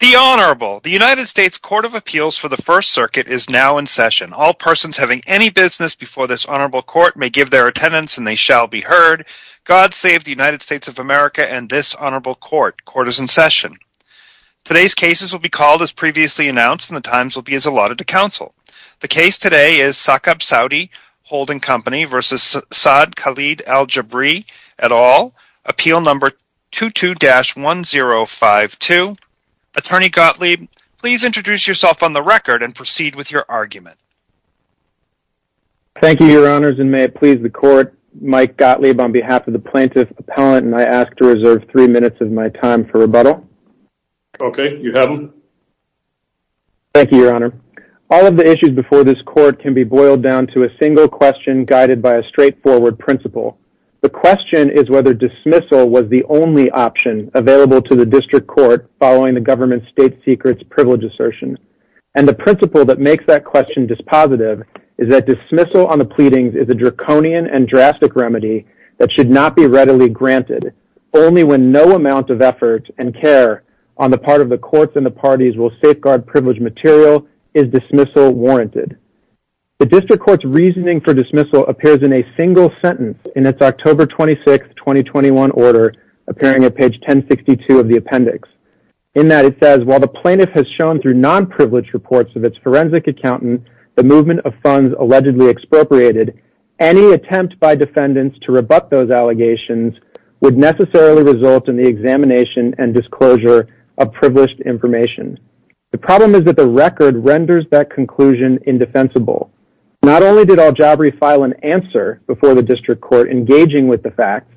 The United States Court of Appeals for the First Circuit is now in session. All persons having any business before this honorable court may give their attendance and they shall be heard. God save the United States of America and this honorable court. Court is in session. Today's cases will be called as previously announced and the times will be as allotted to counsel. The case today is Saqab Saudi Holding Company v. Saad Khalid Aljabri et al. Appeal number 22-1052. Attorney Gottlieb, please introduce yourself on the record and proceed with your argument. Thank you, your honors, and may it please the court. Mike Gottlieb on behalf of the plaintiff's appellant and I ask to reserve three minutes of my time for rebuttal. Okay, you have them. Thank you, your honor. All of the issues before this court can be boiled down to a single question guided by a straightforward principle. The question is whether dismissal was the only option available to the district court following the government state secret's privilege assertion. And the principle that makes that question dispositive is that dismissal on the pleadings is a draconian and drastic remedy that should not be readily granted. Only when no amount of effort and care on the part of the courts and the parties will safeguard privilege material is dismissal warranted. The district court's reasoning for dismissal appears in a single sentence in its October 26, 2021 order, appearing at page 1062 of the appendix. In that it says, while the plaintiff has shown through non-privileged reports of its forensic accountant the movement of funds allegedly expropriated, any attempt by defendants to rebut those allegations would necessarily result in the examination and disclosure of privileged information. The problem is that the record renders that conclusion indefensible. Not only did Al-Jabri file an answer before the district court engaging with the facts,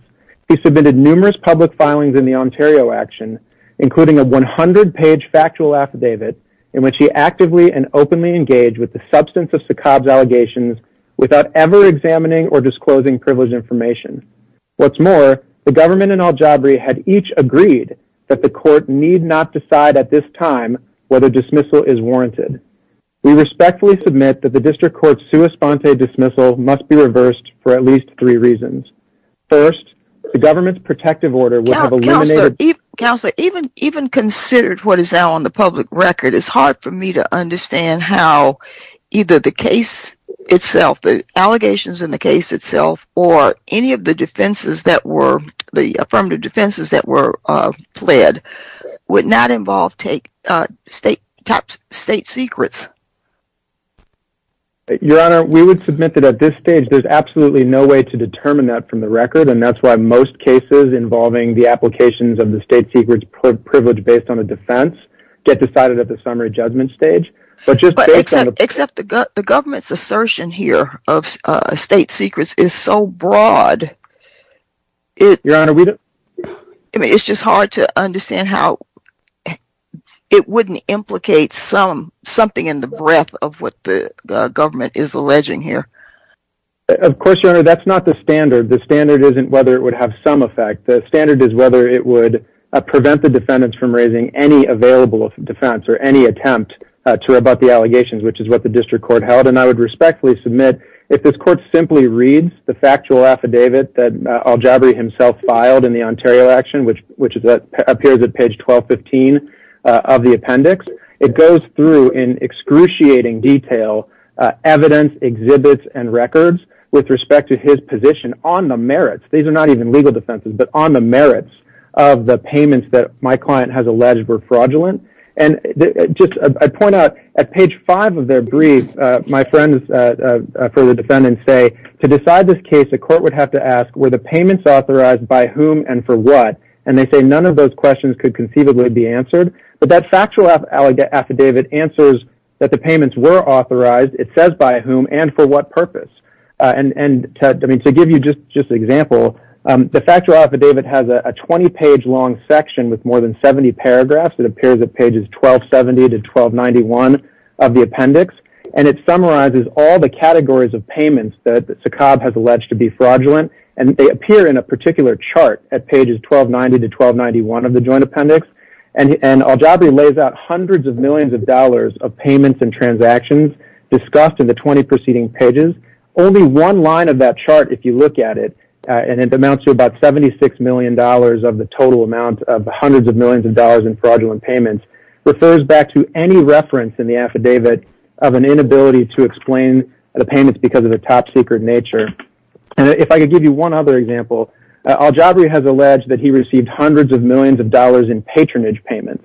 he submitted numerous public filings in the Ontario action, including a 100-page factual affidavit in which he actively and openly engaged with the substance of Sakab's allegations without ever examining or disclosing privileged information. What's more, the government and Al-Jabri had each agreed that the court need not decide at this time whether dismissal is warranted. We respectfully submit that the district court's sua sponte dismissal must be reversed for at least three reasons. First, the government's protective order would have eliminated- Your Honor, we would submit that at this stage there's absolutely no way to determine that from the record, and that's why most cases involving the applications of the state secrets privilege based on a defense get decided at the summary judgment stage. Except the government's assertion here of state secrets is so broad, it's just hard to understand how it wouldn't implicate something in the breadth of what the government is alleging here. Of course, Your Honor, that's not the standard. The standard isn't whether it would have some effect. The standard is whether it would prevent the defendants from raising any available defense or any attempt to rebut the allegations, which is what the district court held, and I would respectfully submit if this court simply reads the factual affidavit that Al-Jabri himself filed in the Ontario action, which appears at page 1215 of the appendix, it goes through in excruciating detail evidence, exhibits, and records with respect to his position on the merits. These are not even legal defenses, but on the merits of the payments that my client has alleged were fraudulent, and I point out at page five of their brief, my friends for the defendants say to decide this case, the court would have to ask were the payments authorized by whom and for what, and they say none of those questions could conceivably be answered, but that factual affidavit answers that the payments were authorized. It says by whom and for what purpose, and to give you just an example, the factual affidavit has a 20-page long section with more than 70 paragraphs. It appears at pages 1270 to 1291 of the appendix, and it summarizes all the categories of payments that Saqqab has alleged to be fraudulent, and they appear in a particular chart at pages 1290 to 1291 of the joint appendix, and Al-Jabri lays out hundreds of millions of dollars of payments and transactions discussed in the 20 preceding pages. Only one line of that chart, if you look at it, and it amounts to about $76 million of the total amount of hundreds of millions of dollars in fraudulent payments, refers back to any reference in the affidavit of an inability to explain the payments because of the top secret nature. And if I could give you one other example, Al-Jabri has alleged that he received hundreds of millions of dollars in patronage payments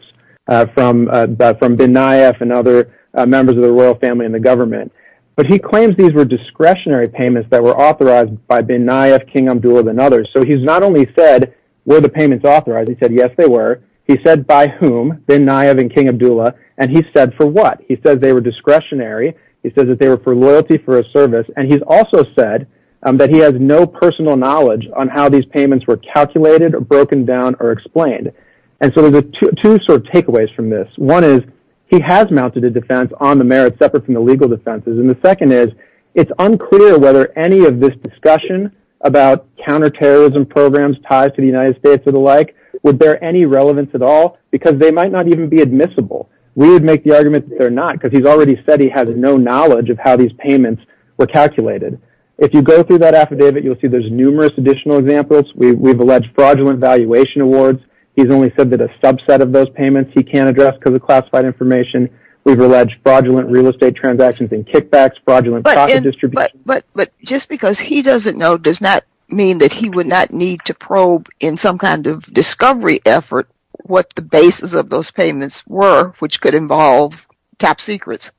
from bin Nayef and other members of the royal family and the government, but he claims these were discretionary payments that were authorized by bin Nayef, King Abdullah, and others. So he's not only said, were the payments authorized? He said, yes, they were. He said by whom, bin Nayef and King Abdullah, and he said for what. He said they were discretionary. He said that they were for loyalty for a service, and he's also said that he has no personal knowledge on how these payments were calculated or broken down or explained. And so there are two sort of takeaways from this. One is he has mounted a defense on the merits separate from the legal defenses, and the second is it's unclear whether any of this discussion about counterterrorism programs tied to the United States and the like would bear any relevance at all because they might not even be admissible. We would make the argument that they're not because he's already said he has no knowledge of how these payments were calculated. If you go through that affidavit, you'll see there's numerous additional examples. We've alleged fraudulent valuation awards. He's only said that a subset of those payments he can't address because of classified information. We've alleged fraudulent real estate transactions and kickbacks, fraudulent profit distribution. But just because he doesn't know does not mean that he would not need to probe in some kind of discovery effort what the basis of those payments were, which could involve top secrets.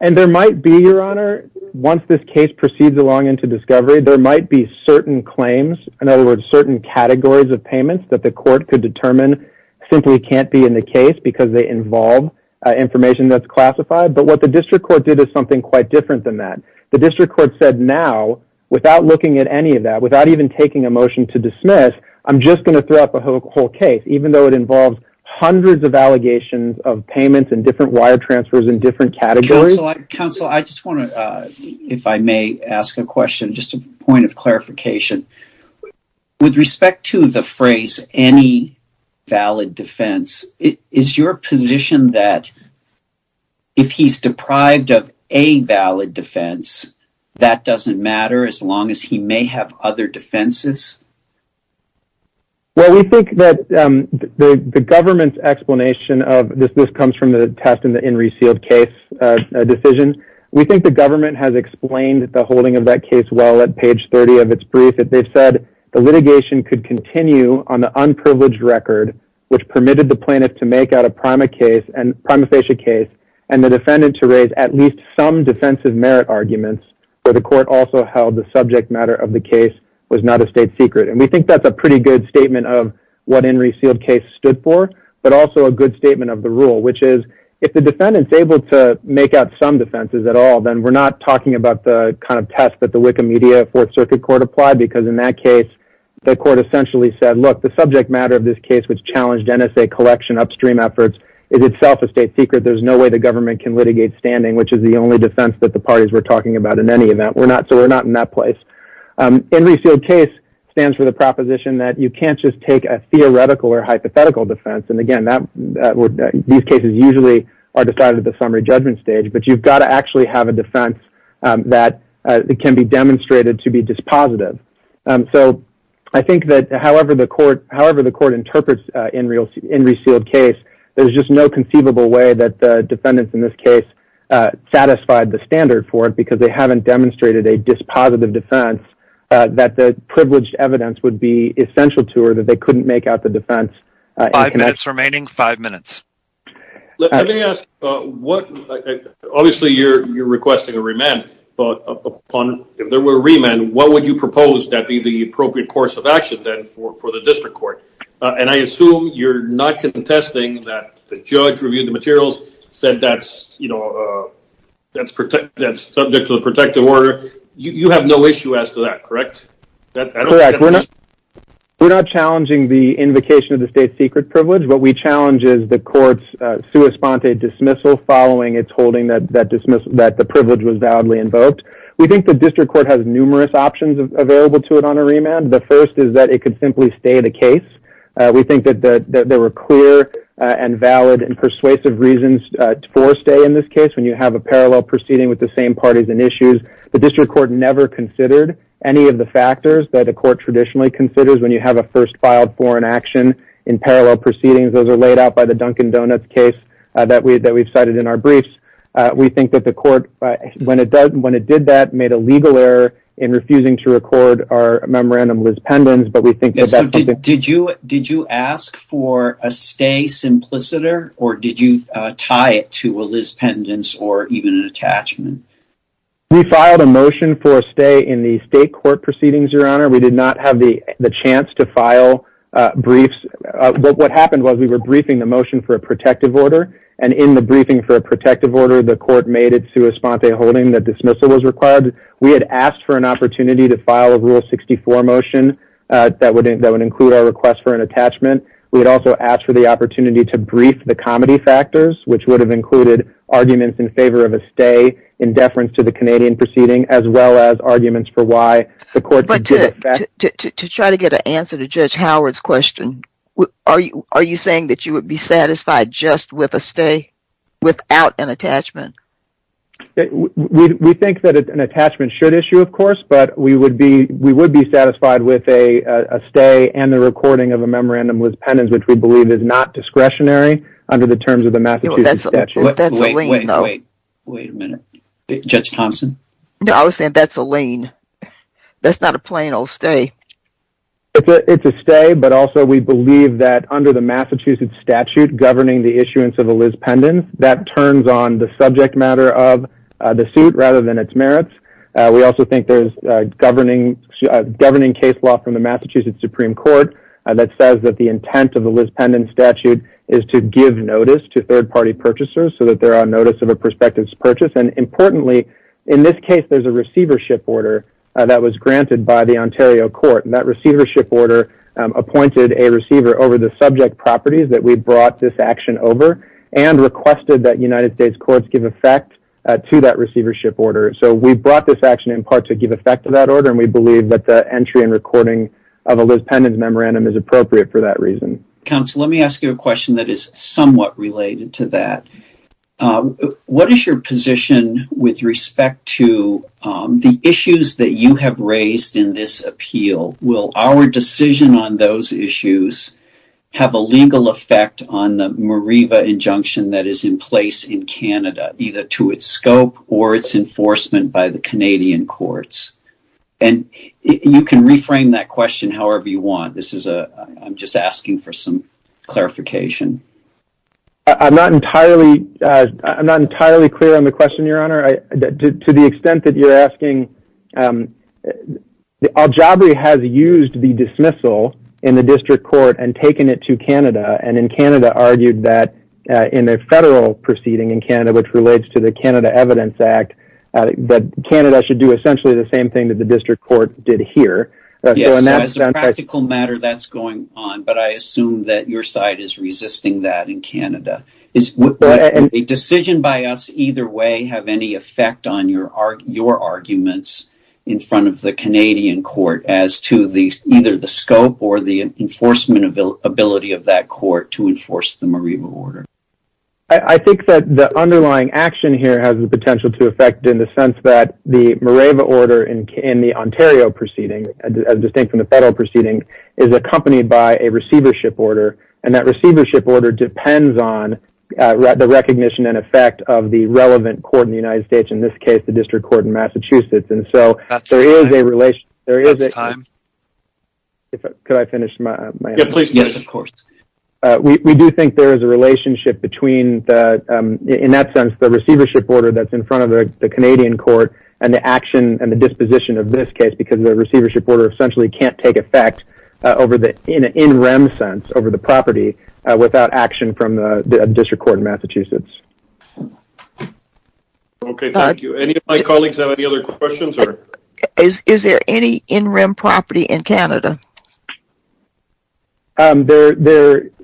And there might be, Your Honor, once this case proceeds along into discovery, there might be certain claims, in other words, certain categories of payments that the court could determine simply can't be in the case because they involve information that's classified. But what the district court did is something quite different than that. The district court said now, without looking at any of that, without even taking a motion to dismiss, I'm just going to throw out the whole case, even though it involves hundreds of allegations of payments and different wire transfers in different categories. Counsel, I just want to, if I may, ask a question, just a point of clarification. With respect to the phrase, any valid defense, is your position that if he's deprived of a valid defense, that doesn't matter as long as he may have other defenses? Well, we think that the government's explanation of this comes from the test and the in received case decisions. We think the government has explained the holding of that case well at page 30 of its brief. They've said the litigation could continue on the unprivileged record, which permitted the plaintiff to make out a prima facie case, and the defendant to raise at least some defensive merit arguments, but the court also held the subject matter of the case was not a state secret. And we think that's a pretty good statement of what in received case stood for, but also a good statement of the rule, which is, if the defendant's able to make out some defenses at all, then we're not talking about the kind of test that the Wikimedia Fourth Circuit Court applied, because in that case, the court essentially said, look, the subject matter of this case, which challenged NSA collection upstream efforts, is itself a state secret. There's no way the government can litigate standing, which is the only defense that the parties were talking about in any event. So we're not in that place. In received case stands for the proposition that you can't just take a theoretical or hypothetical defense. And again, these cases usually are decided at the summary judgment stage, but you've got to actually have a defense that can be demonstrated to be dispositive. So I think that however the court interprets in received case, there's just no conceivable way that the defendants in this case satisfied the standard for it because they haven't demonstrated a dispositive defense that the privileged evidence would be essential to or that they couldn't make out the defense. Five minutes remaining. Five minutes. Let me ask, obviously you're requesting a remand. If there were a remand, what would you propose that would be the appropriate course of action then for the district court? And I assume you're not contesting that the judge reviewed the materials, said that's, you know, that's subject to the protective order. You have no issue as to that, correct? Correct. We're not challenging the invocation of the state secret privilege. What we challenge is the court's sua sponte dismissal following its holding that the privilege was validly invoked. We think the district court has numerous options available to it on a remand. The first is that it could simply stay the case. We think that there were clear and valid and persuasive reasons for a stay in this case when you have a parallel proceeding with the same parties and issues. The district court never considered any of the factors that a court traditionally considers when you have a first filed foreign action in parallel proceedings. Those are laid out by the Dunkin' Donuts case that we've cited in our briefs. We think that the court, when it did that, made a legal error in refusing to record our memorandum Liz Pendens. Did you ask for a stay simpliciter or did you tie it to a Liz Pendens or even an attachment? We filed a motion for a stay in the state court proceedings, Your Honor. We did not have the chance to file briefs. What happened was we were briefing the motion for a protective order and in the briefing for a protective order, the court made it to a sponte holding that dismissal was required. We had asked for an opportunity to file a Rule 64 motion that would include our request for an attachment. We had also asked for the opportunity to brief the comedy factors, which would have included arguments in favor of a stay in deference to the Canadian proceeding as well as arguments for why the court did it. To try to get an answer to Judge Howard's question, are you saying that you would be satisfied just with a stay without an attachment? We think that an attachment should issue, of course, but we would be satisfied with a stay and the recording of a memorandum Liz Pendens, which we believe is not discretionary under the terms of the Massachusetts statute. Wait a minute. Judge Thompson? No, I was saying that's a lien. That's not a plain old stay. It's a stay, but also we believe that under the Massachusetts statute governing the issuance of a Liz Pendens, that turns on the subject matter of the suit rather than its merits. We also think there's a governing case law from the Massachusetts Supreme Court that says that the intent of the Liz Pendens statute is to give notice to third-party purchasers so that they're on notice of a prospective purchase. Importantly, in this case, there's a receivership order that was granted by the Ontario court. That receivership order appointed a receiver over the subject properties that we brought this action over and requested that United States courts give effect to that receivership order. We brought this action in part to give effect to that order, and we believe that the entry and recording of a Liz Pendens memorandum is appropriate for that reason. Counsel, let me ask you a question that is somewhat related to that. What is your position with respect to the issues that you have raised in this appeal? Will our decision on those issues have a legal effect on the Mareeva injunction that is in place in Canada, either to its scope or its enforcement by the Canadian courts? And you can reframe that question however you want. I'm just asking for some clarification. I'm not entirely clear on the question, Your Honour. To the extent that you're asking, Aljabri has used the dismissal in the district court and taken it to Canada and in Canada argued that in a federal proceeding in Canada which relates to the Canada Evidence Act, that Canada should do essentially the same thing that the district court did here. As a practical matter, that's going on, but I assume that your side is resisting that in Canada. Does a decision by us either way have any effect on your arguments in front of the Canadian court as to either the scope or the enforcement ability of that court to enforce the Mareeva order? I think that the underlying action here has the potential to affect in the sense that the Mareeva order in the Ontario proceeding, distinct from the federal proceeding, is accompanied by a receivership order and that receivership order depends on the recognition and effect of the relevant court in the United States, in this case, the district court in Massachusetts. We do think there is a relationship between, in that sense, the receivership order that's in front of the Canadian court and the action and the disposition of this case because the receivership order essentially can't take effect in an in-rem sense over the property without action from the district court in Massachusetts. Is there any in-rem property in Canada? First of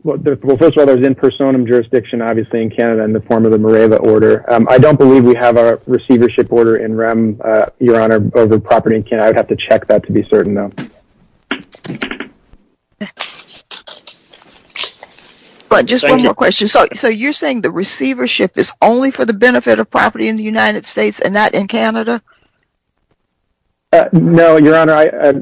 all, there's in personam jurisdiction obviously in Canada in the form of the Mareeva order. I don't believe we have a receivership order in-rem, Your Honor, over property in Canada. I'd have to check that to be certain though. Just one more question. So you're saying the receivership is only for the benefit of property in the United States and not in Canada? No, Your Honor.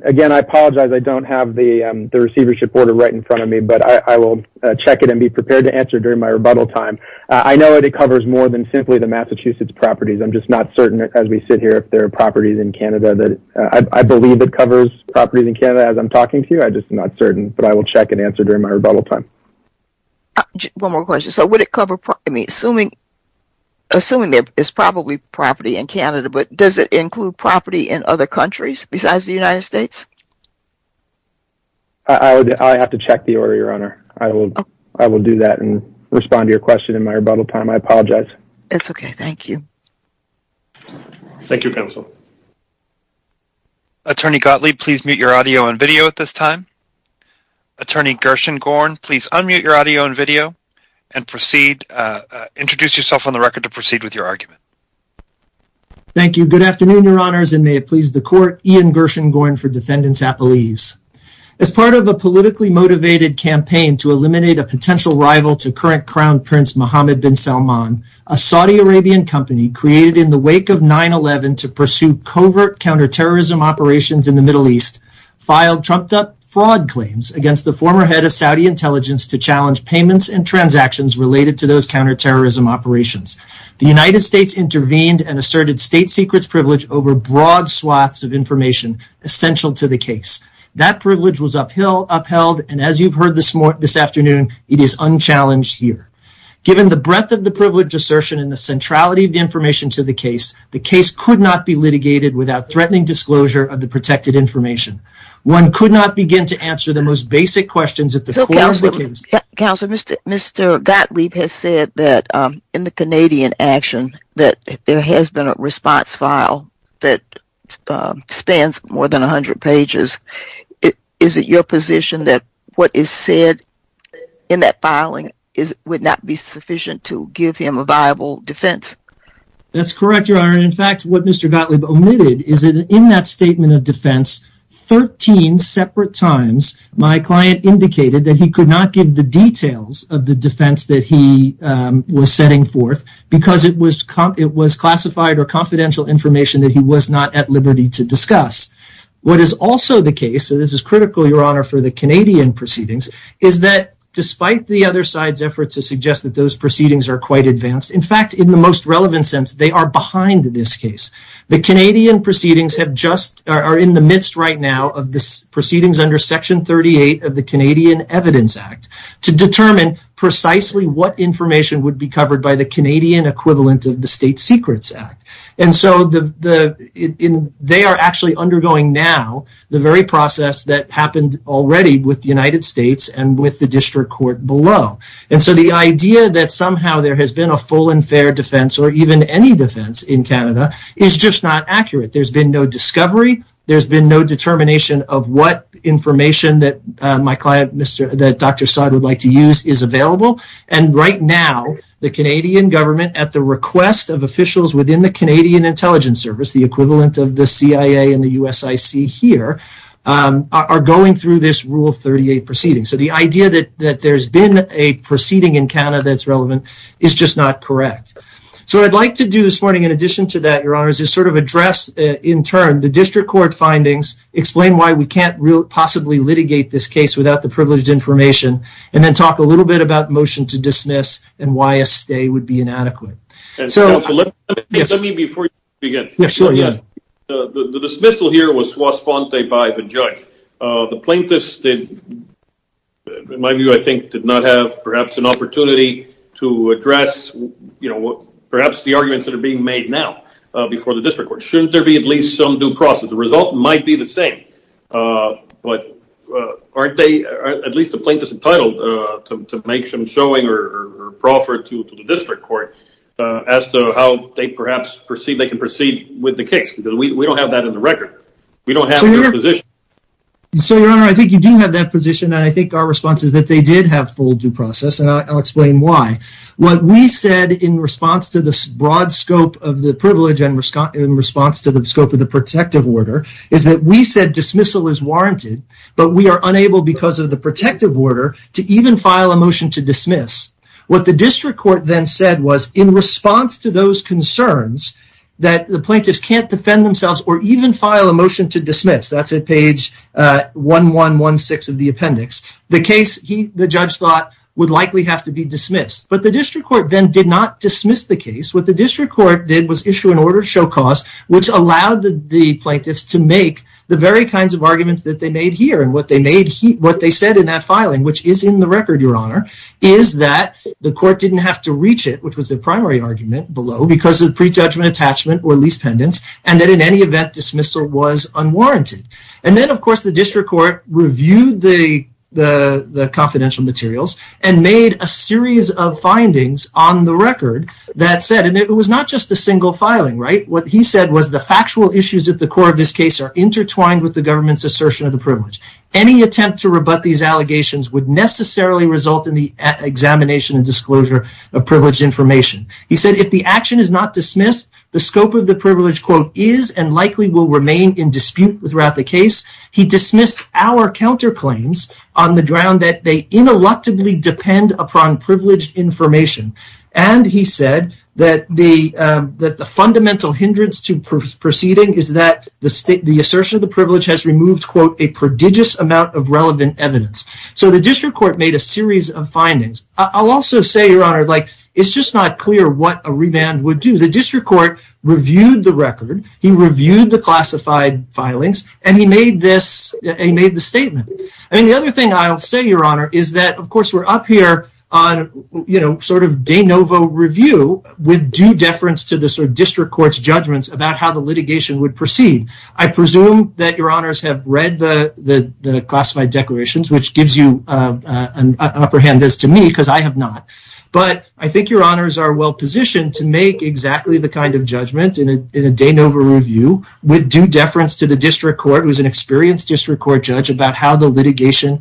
Again, I apologize. I don't have the receivership order right in front of me, but I will check it and be prepared to answer during my rebuttal time. I know that it covers more than simply the Massachusetts properties. I'm just not certain as we sit here if there are properties in Canada. I believe it covers properties in Canada as I'm talking to you. I'm just not certain, but I will check and answer during my rebuttal time. One more question. So would it cover – I mean, assuming it's probably property in Canada, but does it include property in other countries besides the United States? I'd have to check the order, Your Honor. I will do that and respond to your question in my rebuttal time. I apologize. It's okay. Thank you. Thank you, counsel. Attorney Gottlieb, please mute your audio and video at this time. Attorney Gershengorn, please unmute your audio and video and introduce yourself on the record to proceed with your argument. Thank you. Good afternoon, Your Honors, and may it please the Court. Ian Gershengorn for Defendant's Appealese. As part of a politically motivated campaign to eliminate a potential rival to current Crown Prince Mohammed bin Salman, a Saudi Arabian company created in the wake of 9-11 to pursue covert counterterrorism operations in the Middle East filed trumped-up fraud claims against the former head of Saudi intelligence to challenge payments and transactions related to those counterterrorism operations. The United States intervened and asserted state secrets privilege over broad slots of information essential to the case. That privilege was upheld, and as you've heard this afternoon, it is unchallenged here. Given the breadth of the privilege assertion and the centrality of the information to the case, the case could not be litigated without threatening disclosure of the protected information. One could not begin to answer the most basic questions at the core of the case. Counsel, Mr. Gottlieb has said that in the Canadian action that there has been a response file that spans more than 100 pages. Is it your position that what is said in that filing would not be sufficient to give him a viable defense? That's correct, Your Honor. In fact, what Mr. Gottlieb omitted is that in that statement of defense, 13 separate times my client indicated that he could not give the details of the defense that he was setting forth because it was classified or confidential information that he was not at liberty to discuss. What is also the case, and this is critical, Your Honor, for the Canadian proceedings, is that despite the other side's efforts to suggest that those proceedings are quite advanced, in fact, in the most relevant sense, they are behind this case. The Canadian proceedings are in the midst right now of the proceedings under Section 38 of the Canadian Evidence Act to determine precisely what information would be covered by the Canadian equivalent of the State Secrets Act. And so they are actually undergoing now the very process that happened already with the United States and with the district court below. And so the idea that somehow there has been a full and fair defense or even any defense in Canada is just not accurate. There's been no discovery. There's been no determination of what information that my client, Dr. Saad, would like to use is available. And right now, the Canadian government, at the request of officials within the Canadian Intelligence Service, the equivalent of the CIA and the USIC here, are going through this Rule 38 proceeding. So the idea that there's been a proceeding in Canada that's relevant is just not correct. So what I'd like to do this morning in addition to that, Your Honor, is just sort of address in turn the district court findings, explain why we can't possibly litigate this case without the privileged information, and then talk a little bit about motion to dismiss and why a stay would be inadequate. Let me before you begin. Yes, sure. The dismissal here was to a sponsor by the judge. The plaintiffs, in my view, I think, did not have perhaps an opportunity to address, you know, perhaps the arguments that are being made now before the district court. Shouldn't there be at least some due process? The result might be the same. But aren't they, at least the plaintiffs, entitled to make some showing or proffer to the district court as to how they perhaps proceed? They can proceed with the case, because we don't have that in the record. We don't have that position. So, Your Honor, I think you do have that position, and I think our response is that they did have full due process, and I'll explain why. What we said in response to the broad scope of the privilege and in response to the scope of the protective order is that we said dismissal is warranted, but we are unable because of the protective order to even file a motion to dismiss. What the district court then said was, in response to those concerns that the plaintiffs can't defend themselves or even file a motion to dismiss, that's at page 1116 of the appendix, the case, the judge thought, would likely have to be dismissed. But the district court then did not dismiss the case. What the district court did was issue an order to show cause, which allowed the plaintiffs to make the very kinds of arguments that they made here. And what they said in that filing, which is in the record, Your Honor, is that the court didn't have to reach it, which was the primary argument below, because of prejudgment, attachment, or lease pendants, and that in any event, dismissal was unwarranted. And then, of course, the district court reviewed the confidential materials and made a series of findings on the record that said, and it was not just a single filing, right? What he said was the factual issues at the core of this case are intertwined with the government's assertion of the privilege. Any attempt to rebut these allegations would necessarily result in the examination and disclosure of privileged information. He said if the action is not dismissed, the scope of the privilege, quote, is and likely will remain in dispute throughout the case. He dismissed our counterclaims on the ground that they ineluctably depend upon privileged information. And he said that the fundamental hindrance to proceeding is that the assertion of the privilege has removed, quote, a prodigious amount of relevant evidence. So the district court made a series of findings. I'll also say, Your Honor, like, it's just not clear what a revand would do. The district court reviewed the record. He reviewed the classified filings, and he made this statement. And the other thing I'll say, Your Honor, is that, of course, we're up here on, you know, sort of de novo review with due deference to the sort of district court's judgments about how the litigation would proceed. I presume that Your Honors have read the classified declarations, which gives you an upper hand as to me because I have not. But I think Your Honors are well positioned to make exactly the kind of judgment in a de novo review with due deference to the district court, who is an experienced district court judge, about how the litigation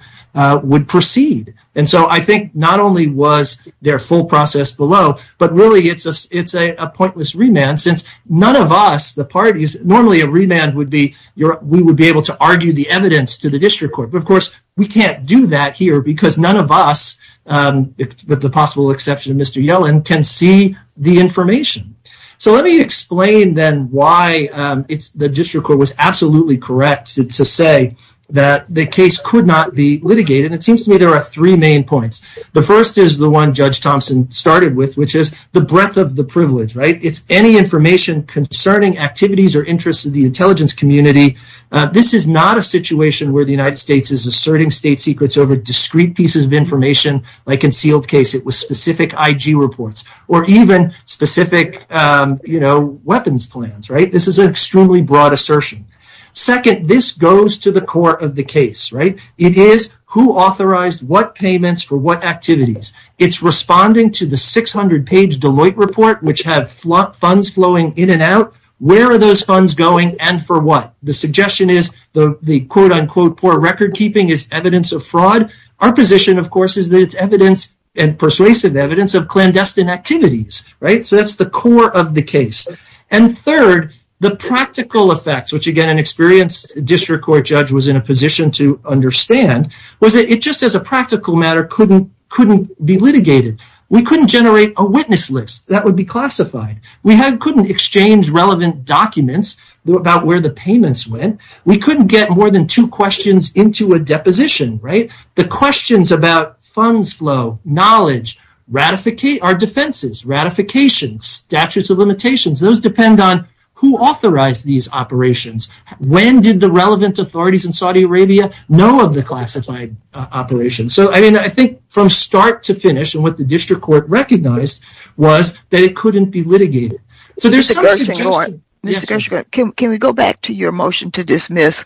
would proceed. And so I think not only was there a full process below, but really it's a pointless remand since none of us, the parties, normally a remand would be we would be able to argue the evidence to the district court. But, of course, we can't do that here because none of us, with the possible exception of Mr. Yellen, can see the information. So let me explain, then, why the district court was absolutely correct to say that the case could not be litigated. It seems to me there are three main points. The first is the one Judge Thompson started with, which is the breadth of the privilege, right? If any information concerning activities or interests of the intelligence community, this is not a situation where the United States is asserting state secrets over discrete pieces of information like a sealed case, it was specific IG reports, or even specific, you know, weapons plans, right? This is an extremely broad assertion. Second, this goes to the core of the case, right? It is who authorized what payments for what activities. It's responding to the 600-page Deloitte report, which had funds flowing in and out. Where are those funds going and for what? The suggestion is the quote-unquote poor record keeping is evidence of fraud. Our position, of course, is that it's evidence and persuasive evidence of clandestine activities, right? So that's the core of the case. And third, the practical effects, which, again, an experienced district court judge was in a position to understand, was that it just as a practical matter couldn't be litigated. We couldn't generate a witness list that would be classified. We couldn't exchange relevant documents about where the payments went. We couldn't get more than two questions into a deposition, right? The questions about funds flow, knowledge, our defenses, ratifications, statutes of limitations, those depend on who authorized these operations. When did the relevant authorities in Saudi Arabia know of the classified operations? So, I mean, I think from start to finish and what the district court recognized was that it couldn't be litigated. So there's some suggestion. Can we go back to your motion to dismiss?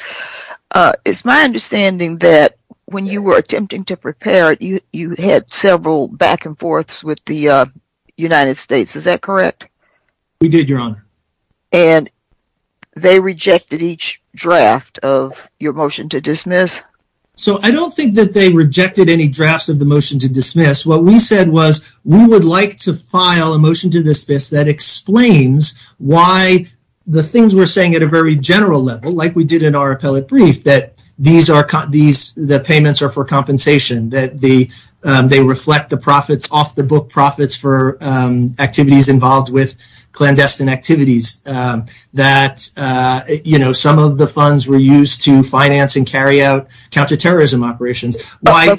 It's my understanding that when you were attempting to prepare it, you had several back and forths with the United States. Is that correct? We did, Your Honor. And they rejected each draft of your motion to dismiss? So I don't think that they rejected any drafts of the motion to dismiss. What we said was we would like to file a motion to dismiss that explains why the things we're saying at a very general level, like we did in our appellate brief, that the payments are for compensation, that they reflect the profits off the book, profits for activities involved with clandestine activities, that some of the funds were used to finance and carry out counterterrorism operations. We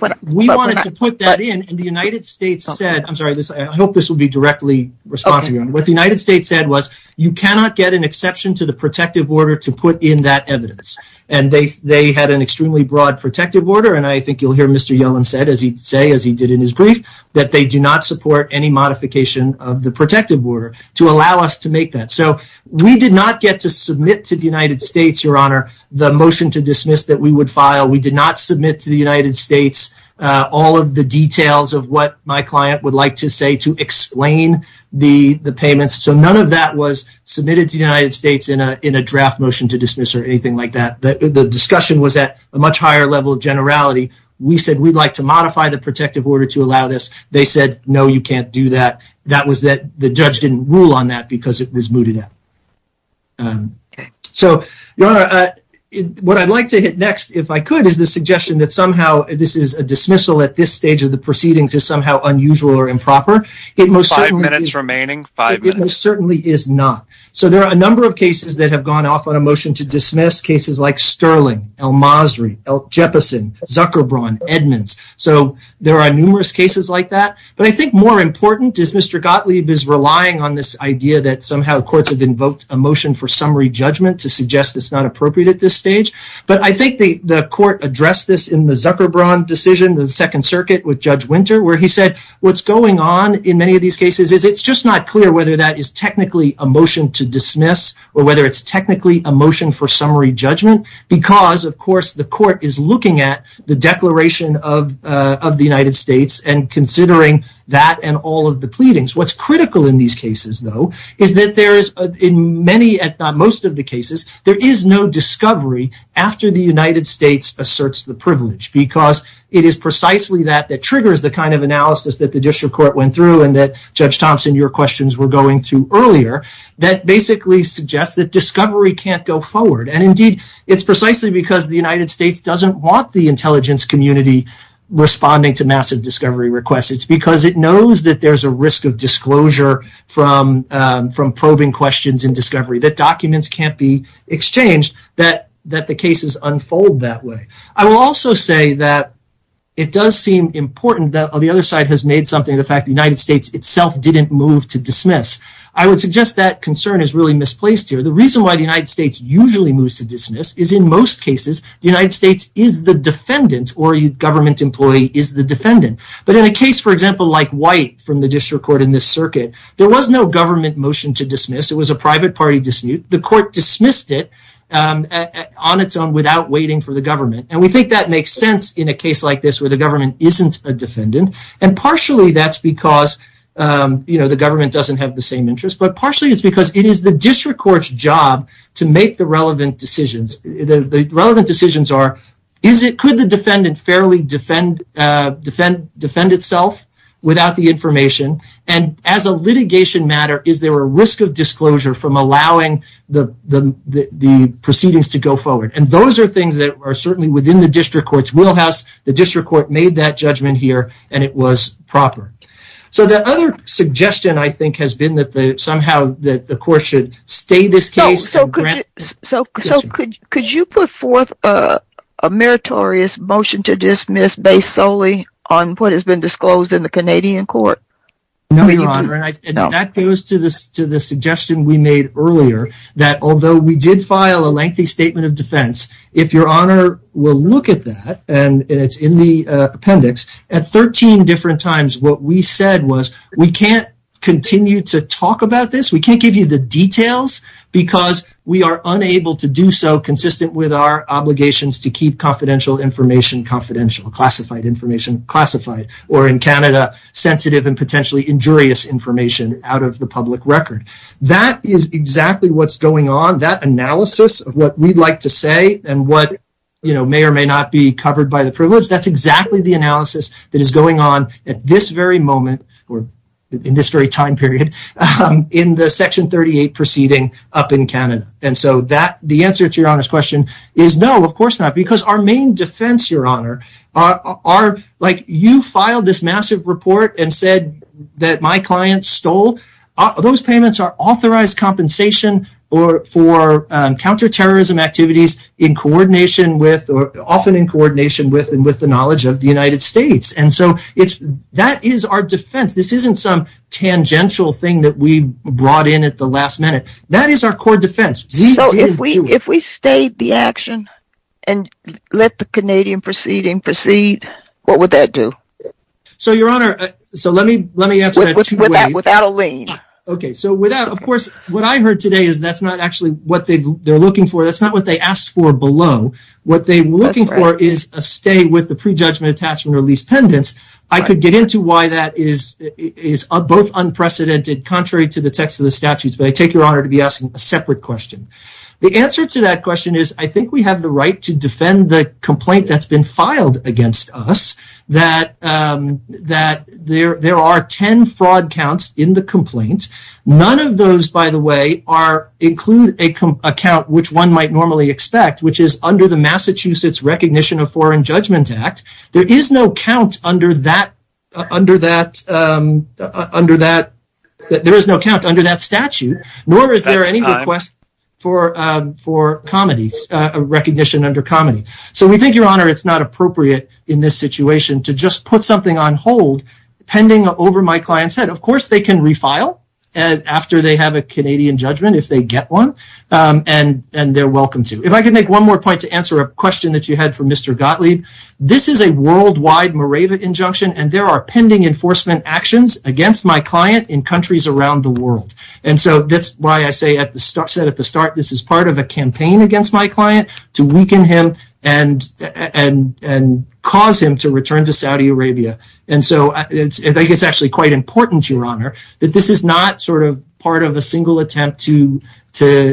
wanted to put that in, and the United States said, I'm sorry, I hope this will be directly responsive. What the United States said was you cannot get an exception to the protective order to put in that evidence. And they had an extremely broad protective order, and I think you'll hear Mr. Yellen say, as he did in his brief, that they do not support any modification of the protective order to allow us to make that. So we did not get to submit to the United States, Your Honor, the motion to dismiss that we would file. We did not submit to the United States all of the details of what my client would like to say to explain the payments. So none of that was submitted to the United States in a draft motion to dismiss or anything like that. But the discussion was at a much higher level of generality. We said we'd like to modify the protective order to allow this. They said, no, you can't do that. That was that the judge didn't rule on that because it was mooted out. So, Your Honor, what I'd like to hit next, if I could, is the suggestion that somehow this is a dismissal at this stage of the proceedings is somehow unusual or improper. Five minutes remaining, five minutes. It most certainly is not. So there are a number of cases that have gone off on a motion to dismiss, cases like Sterling, El-Masri, Jefferson, Zuckerbron, Edmonds. So there are numerous cases like that. But I think more important is Mr. Gottlieb is relying on this idea that somehow courts have invoked a motion for summary judgment to suggest it's not appropriate at this stage. But I think the court addressed this in the Zuckerbron decision, the Second Circuit with Judge Winter, where he said what's going on in many of these cases is it's just not clear whether that is technically a motion to dismiss or whether it's technically a motion for summary judgment because, of course, the court is looking at the Declaration of the United States and considering that and all of the pleadings. What's critical in these cases, though, is that in most of the cases, there is no discovery after the United States asserts the privilege because it is precisely that that triggers the kind of analysis that the district court went through and that, Judge Thompson, your questions were going to earlier, that basically suggests that discovery can't go forward. And, indeed, it's precisely because the United States doesn't want the intelligence community responding to massive discovery requests. It's because it knows that there's a risk of disclosure from probing questions and discovery, that documents can't be exchanged, that the cases unfold that way. I will also say that it does seem important that the other side has made something of the fact the United States itself didn't move to dismiss. I would suggest that concern is really misplaced here. The reason why the United States usually moves to dismiss is, in most cases, the United States is the defendant or a government employee is the defendant. But in a case, for example, like White from the district court in this circuit, there was no government motion to dismiss. It was a private party dispute. The court dismissed it on its own without waiting for the government, and we think that makes sense in a case like this where the government isn't a defendant, and partially that's because the government doesn't have the same interests, but partially it's because it is the district court's job to make the relevant decisions. The relevant decisions are, could the defendant fairly defend itself without the information, and as a litigation matter, is there a risk of disclosure from allowing the proceedings to go forward? And those are things that are certainly within the district court's wheelhouse. The district court made that judgment here, and it was proper. So the other suggestion, I think, has been that somehow the court should stay this case. So could you put forth a meritorious motion to dismiss based solely on what has been disclosed in the Canadian court? No, Your Honor, and that goes to the suggestion we made earlier that although we did file a lengthy statement of defense, if Your Honor will look at that, and it's in the appendix, at 13 different times what we said was, we can't continue to talk about this, we can't give you the details, because we are unable to do so consistent with our obligations to keep confidential information confidential, classified information classified, or in Canada, sensitive and potentially injurious information out of the public record. That is exactly what's going on, that analysis of what we'd like to say and what may or may not be covered by the privilege, that's exactly the analysis that is going on at this very moment, or in this very time period, in the Section 38 proceeding up in Canada. And so the answer to Your Honor's question is no, of course not, because our main defense, Your Honor, like you filed this massive report and said that my client stole, those payments are authorized compensation for counterterrorism activities in coordination with, or often in coordination with the knowledge of the United States. And so that is our defense, this isn't some tangential thing that we brought in at the last minute. That is our core defense. So if we stayed the action and let the Canadian proceeding proceed, what would that do? So, Your Honor, so let me answer that two ways. Without a lien. Okay, so without, of course, what I heard today is that's not actually what they're looking for, that's not what they asked for below. What they're looking for is a stay with the pre-judgment attachment release pendants. I could get into why that is both unprecedented, contrary to the text of the statutes, but I take Your Honor to be asking a separate question. The answer to that question is I think we have the right to defend the complaint that's been filed against us, that there are ten fraud counts in the complaint. None of those, by the way, include a count which one might normally expect, which is under the Massachusetts Recognition of Foreign Judgment Act. There is no count under that statute, nor is there any request for recognition under comity. So we think, Your Honor, it's not appropriate in this situation to just put something on hold pending over my client's head. Of course they can refile after they have a Canadian judgment if they get one, and they're welcome to. If I could make one more point to answer a question that you had for Mr. Gottlieb. This is a worldwide Moravian injunction, and there are pending enforcement actions against my client in countries around the world. And so that's why I said at the start this is part of a campaign against my client to weaken him and cause him to return to Saudi Arabia. And so I think it's actually quite important, Your Honor, that this is not sort of part of a single attempt to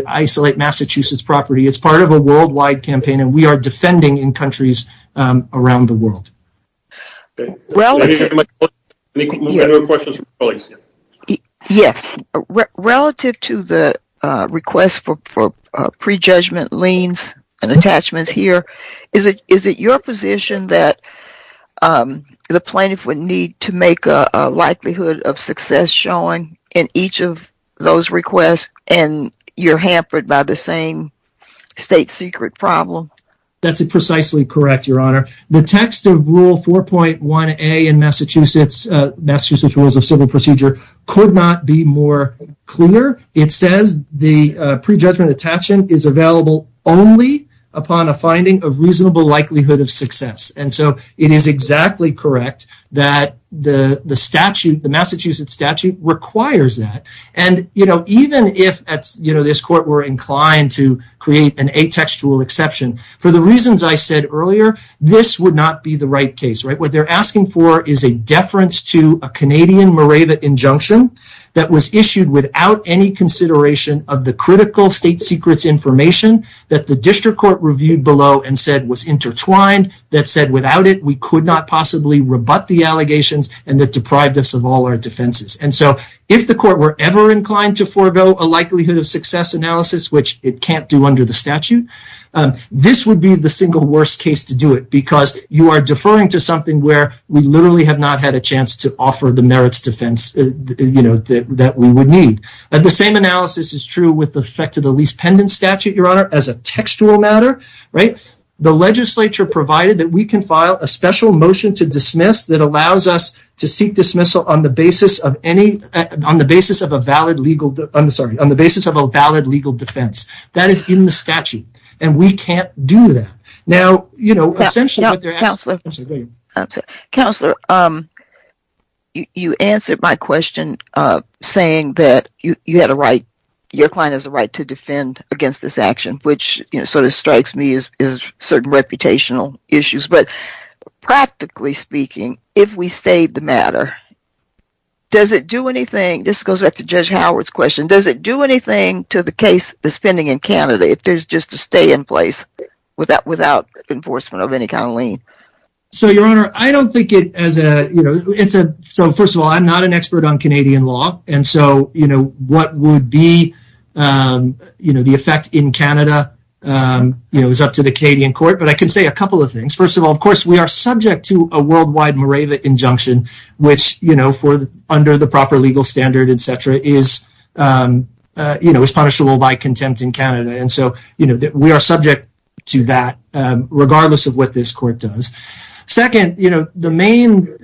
isolate Massachusetts property. It's part of a worldwide campaign, and we are defending in countries around the world. Yes. Relative to the request for prejudgment liens and attachments here, is it your position that the plaintiff would need to make a likelihood of success showing in each of those requests, and you're hampered by the same state secret problem? That's precisely correct, Your Honor. The text of Rule 4.1a in Massachusetts, Massachusetts Rules of Civil Procedure, could not be more clear. It says the prejudgment attachment is available only upon a finding of reasonable likelihood of success. And so it is exactly correct that the statute, the Massachusetts statute, requires that. And, you know, even if, you know, this court were inclined to create an atextual exception, for the reasons I said earlier, this would not be the right case, right? What they're asking for is a deference to a Canadian Moravia injunction that was issued without any consideration of the critical state secrets information that the district court reviewed below and said was intertwined, that said without it we could not possibly rebut the allegations, and that deprived us of all our defenses. And so if the court were ever inclined to forego a likelihood of success analysis, which it can't do under the statute, this would be the single worst case to do it, because you are deferring to something where we literally have not had a chance to offer the merits defense, you know, that we would need. And the same analysis is true with respect to the Lease Pendant Statute, Your Honor, as a textual matter, right? The legislature provided that we can file a special motion to dismiss that allows us to seek dismissal on the basis of a valid legal defense. That is in the statute, and we can't do that. Now, you know, essentially what they're asking for... Counselor, you answered my question saying that you had a right, your client has a right to defend against this action, which sort of strikes me as certain reputational issues. But practically speaking, if we save the matter, does it do anything... This goes back to Judge Howard's question. Does it do anything to the case, the spending in Canada, if there's just a stay in place without enforcement of any kind of lien? So, Your Honor, I don't think it as a... So, first of all, I'm not an expert on Canadian law, and so, you know, what would be, you know, the effect in Canada, you know, is up to the Canadian court. But I can say a couple of things. First of all, of course, we are subject to a worldwide Moravia injunction, which, you know, for under the proper legal standard, et cetera, is, you know, is punishable by contempt in Canada. And so, you know, we are subject to that, regardless of what this court does. Second, you know, the main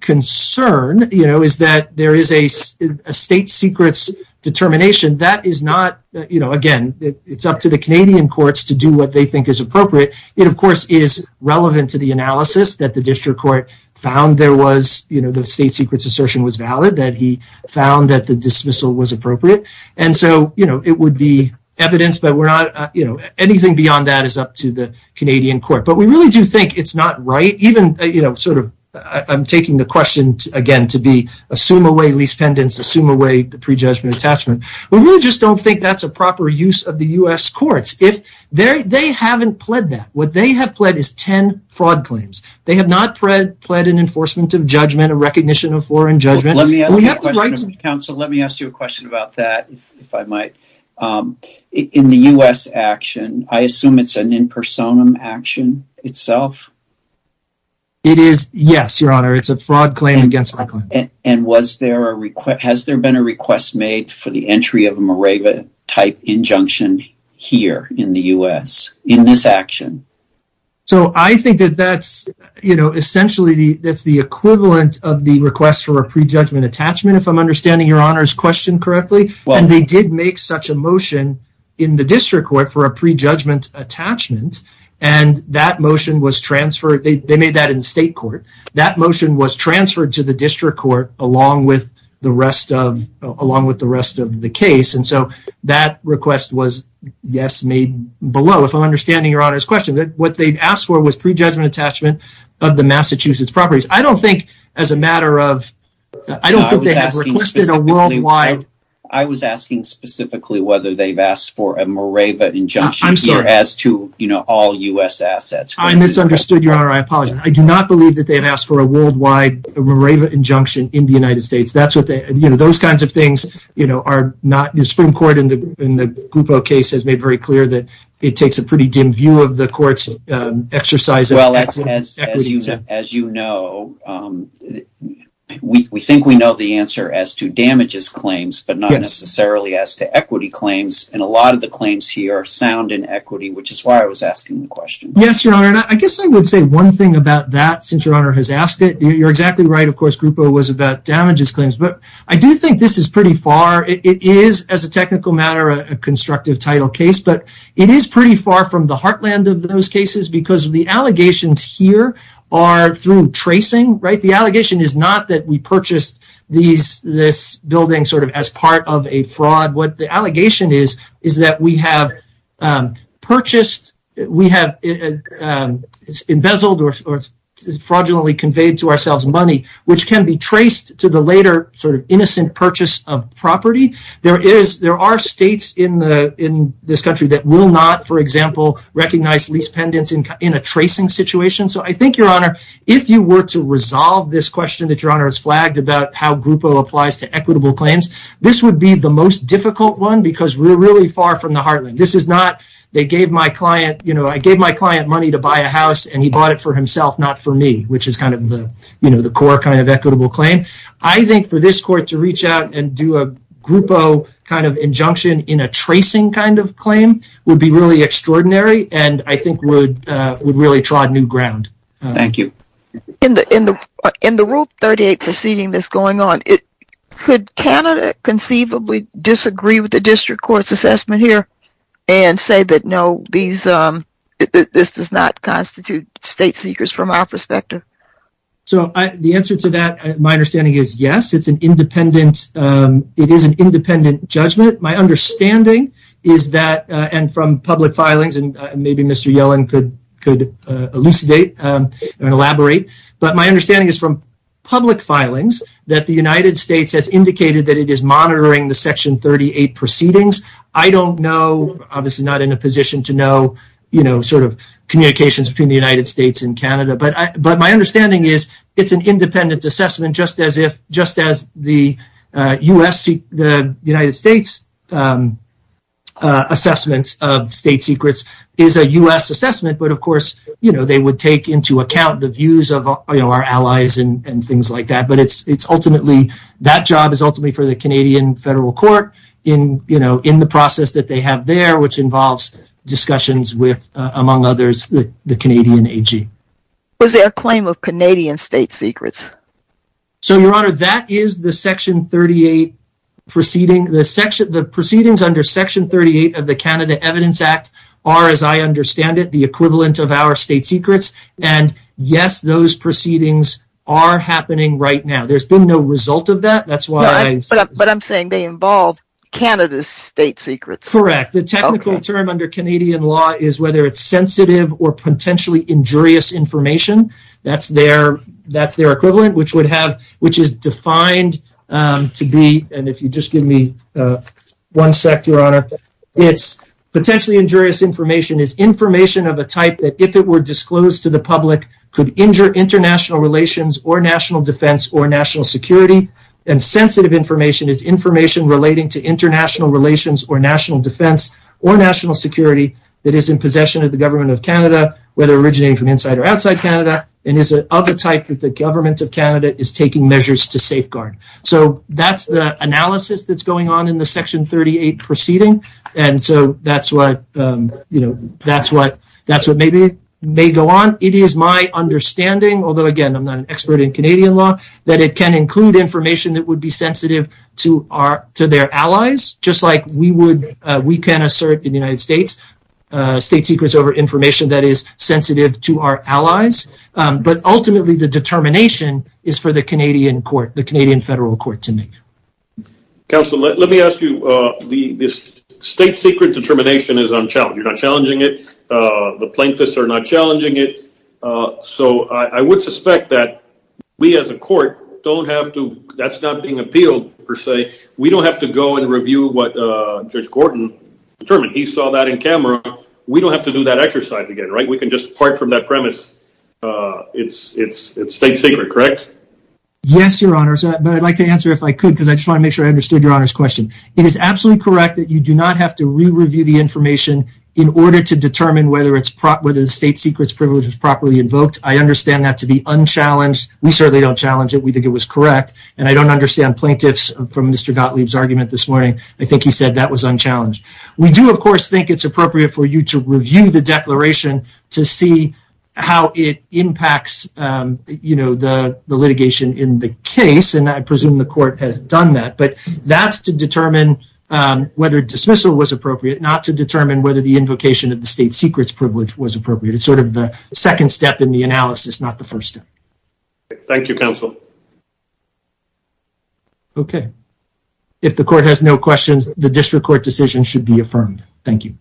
concern, you know, is that there is a state secrets determination. That is not, you know, again, it's up to the Canadian courts to do what they think is appropriate. It, of course, is relevant to the analysis that the district court found there was, you know, the state secrets assertion was valid, that he found that the dismissal was appropriate. And so, you know, it would be evidence, but we're not, you know, anything beyond that is up to the Canadian court. But we really do think it's not right, even, you know, sort of, I'm taking the question, again, to be assume away lease pendants, assume away the prejudgment attachment. We really just don't think that's a proper use of the U.S. courts. They haven't pled that. What they have pled is 10 fraud claims. They have not pled an enforcement of judgment, a recognition of foreign judgment. Let me ask you a question about that, if I might. In the U.S. action, I assume it's an impersonum action itself? It is, yes, Your Honor. It's a fraud claim against my client. And was there a request, has there been a request made for the entry of a Mareva-type injunction here in the U.S. in this action? So I think that that's, you know, essentially that's the equivalent of the request for a prejudgment attachment, if I'm understanding Your Honor's question correctly. And they did make such a motion in the district court for a prejudgment attachment, and that motion was transferred. They made that in state court. That motion was transferred to the district court along with the rest of the case, and so that request was, yes, made below, if I'm understanding Your Honor's question. What they asked for was prejudgment attachment of the Massachusetts properties. I don't think as a matter of, I don't think they have requested a worldwide. I was asking specifically whether they've asked for a Mareva injunction here as to, you know, all U.S. assets. I misunderstood, Your Honor. I apologize. I do not believe that they've asked for a worldwide Mareva injunction in the United States. That's what they, you know, those kinds of things, you know, are not in the Supreme Court. And the Grupo case has made very clear that it takes a pretty dim view of the court's exercise. Well, as you know, we think we know the answer as to damages claims, but not necessarily as to equity claims. And a lot of the claims here are sound in equity, which is why I was asking the question. Yes, Your Honor. And I guess I would say one thing about that, since Your Honor has asked it. You're exactly right. Of course, Grupo was about damages claims. But I do think this is pretty far. It is, as a technical matter, a constructive title case. But it is pretty far from the heartland of those cases because the allegations here are through tracing, right? fraud. What the allegation is, is that we have purchased, we have embezzled or fraudulently conveyed to ourselves money, which can be traced to the later sort of innocent purchase of property. There are states in this country that will not, for example, recognize lease pendants in a tracing situation. So I think, Your Honor, if you were to resolve this question that Your Honor has flagged about how difficult one, because we're really far from the heartland. This is not, they gave my client, you know, I gave my client money to buy a house and he bought it for himself, not for me, which is kind of the core kind of equitable claim. I think for this court to reach out and do a Grupo kind of injunction in a tracing kind of claim would be really extraordinary and I think would really trod new ground. Thank you. In the rule 38 proceeding that's going on, could Canada conceivably disagree with the district court's assessment here and say that no, these, this does not constitute state seekers from our perspective? So the answer to that, my understanding is yes. It's an independent, it is an independent judgment. My understanding is that, and from public filings, but my understanding is from public filings that the United States has indicated that it is monitoring the section 38 proceedings. I don't know, obviously not in a position to know, you know, sort of communications between the United States and Canada, but I, but my understanding is it's an independent assessment, just as if, just as the U S the United States assessments of state secrets is a U S assessment. But of course, you know, they would take into account the views of our allies and things like that. But it's, it's ultimately, that job is ultimately for the Canadian federal court in, you know, in the process that they have there, which involves discussions with among others, the Canadian AG. Was there a claim of Canadian state secrets? So your honor, that is the section 38 proceeding. The section, the proceedings under section 38 of the Canada evidence act are, as I understand it, the equivalent of our state secrets and yes, those proceedings are happening right now. There's been no result of that. That's why. But I'm saying they involve Canada's state secrets. Correct. The technical term under Canadian law is whether it's sensitive or potentially injurious information. That's their, that's their equivalent, which would have, which is defined to be. And if you just give me one sec, your honor, Potentially injurious information is information of a type that if it were disclosed to the public could injure international relations or national defense or national security and sensitive information is information relating to international relations or national defense or national security. It is in possession of the government of Canada, whether originating from inside or outside Canada. And is it of a type that the government of Canada is taking measures to safeguard. So that's the analysis that's going on in the section 38 proceeding. And so that's what, you know, that's what, that's what maybe may go on. It is my understanding, although again, I'm not an expert in Canadian law that it can include information that would be sensitive to our, to their allies, just like we would, we can assert in the United States state secrets over information that is sensitive to our allies. But ultimately the determination is for the Canadian court, the Canadian federal court to make. Counselor, let me ask you, the state secret determination is unchallenged. You're not challenging it. The plaintiffs are not challenging it. So I would suspect that we as a court don't have to, that's not being appealed per se. We don't have to go and review what judge Gordon determined. He saw that in camera. We don't have to do that exercise again, right? We can just part from that premise. It's, it's, it's state secret, correct? Yes, your honors. But I'd like to answer if I could, because I just want to make sure I understood your honors question. It is absolutely correct that you do not have to re-review the information in order to determine whether it's proper, whether the state secrets privilege is properly invoked. I understand that to be unchallenged. We certainly don't challenge it. We think it was correct. And I don't understand plaintiffs from Mr. Gottlieb's argument this morning. I think he said that was unchallenged. We do of course think it's appropriate for you to review the declaration to see how it impacts, you know, the litigation in the case. And I presume the court has done that, but that's to determine whether dismissal was appropriate, not to determine whether the invocation of the state secrets privilege was appropriate. It's sort of the second step in the analysis, not the first step. Thank you counsel. Okay. If the court has no questions, the district court decision should be affirmed. Thank you.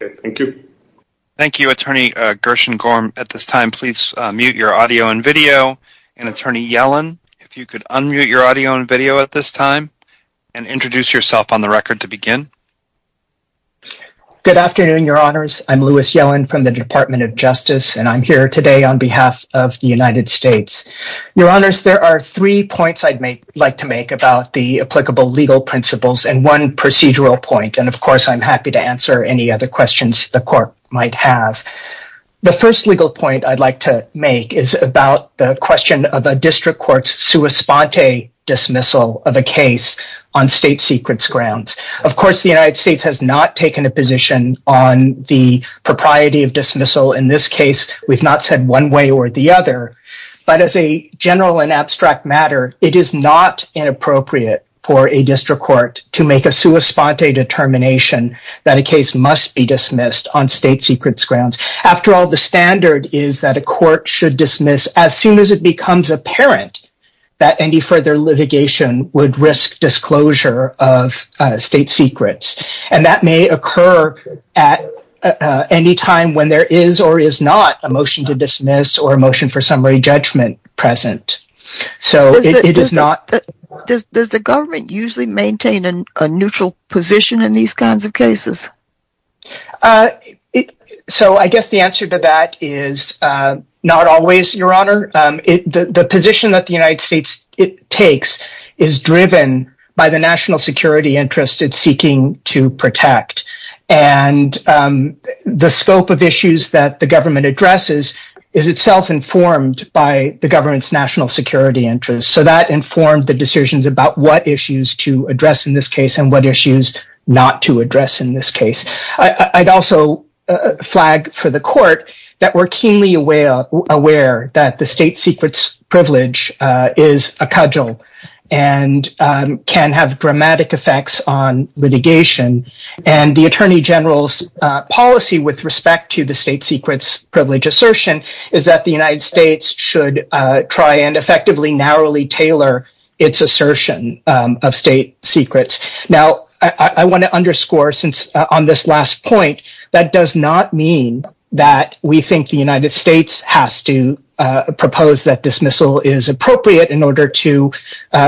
Thank you. Thank you. Attorney Gershengorm at this time, please mute your audio and video and attorney Yellen, if you could unmute your audio and video at this time and introduce yourself on the record to begin. Good afternoon, your honors. I'm Lewis Yellen from the department of justice. And I'm here today on behalf of the United States. Your honors, there are three points I'd make like to make about the applicable legal principles and one procedural point. And of course I'm happy to answer any other questions the court might have. The first legal point I'd like to make is about the question of a district court's sua sponte dismissal of a case on state secrets grounds. Of course, the United States has not taken a position on the propriety of dismissal in this case. We've not said one way or the other, but as a general and abstract matter, it is not inappropriate for a district court to make a sua sponte determination that a case must be dismissed on state secrets grounds. After all, the standard is that a court should dismiss as soon as it becomes apparent that any further litigation would risk disclosure of state secrets. And that may occur at any time when there is, or is not a motion to dismiss or motion for summary judgment present. So it is not. Does the government usually maintain a neutral position in these kinds of cases? So I guess the answer to that is not always your honor. The position that the United States takes is driven by the national security interests it's seeking to protect. And the scope of issues that the government addresses is itself informed by the government's national security interest. So that informed the decisions about what issues to address in this case and what issues not to address in this case. I'd also flag for the court that we're keenly aware, aware that the state secrets privilege is a cudgel and can have dramatic effects on litigation. And the attorney general's policy with respect to the state secrets privilege assertion is that the United States should try and effectively narrowly tailor its assertion of state secrets. Now I want to underscore since on this last point, that does not mean that we think the United States has to propose that dismissal is appropriate in order to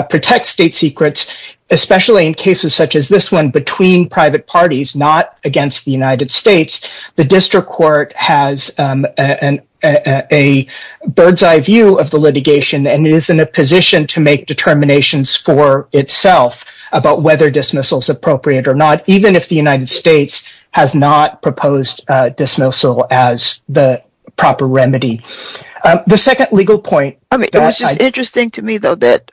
protect state secrets, especially in cases such as this one between private parties, not against the United States. The district court has a bird's eye view of the litigation and is in a position to make determination score itself about whether dismissal is appropriate or not, even if the United States has not proposed a dismissal as the proper remedy. The second legal point. Interesting to me though, that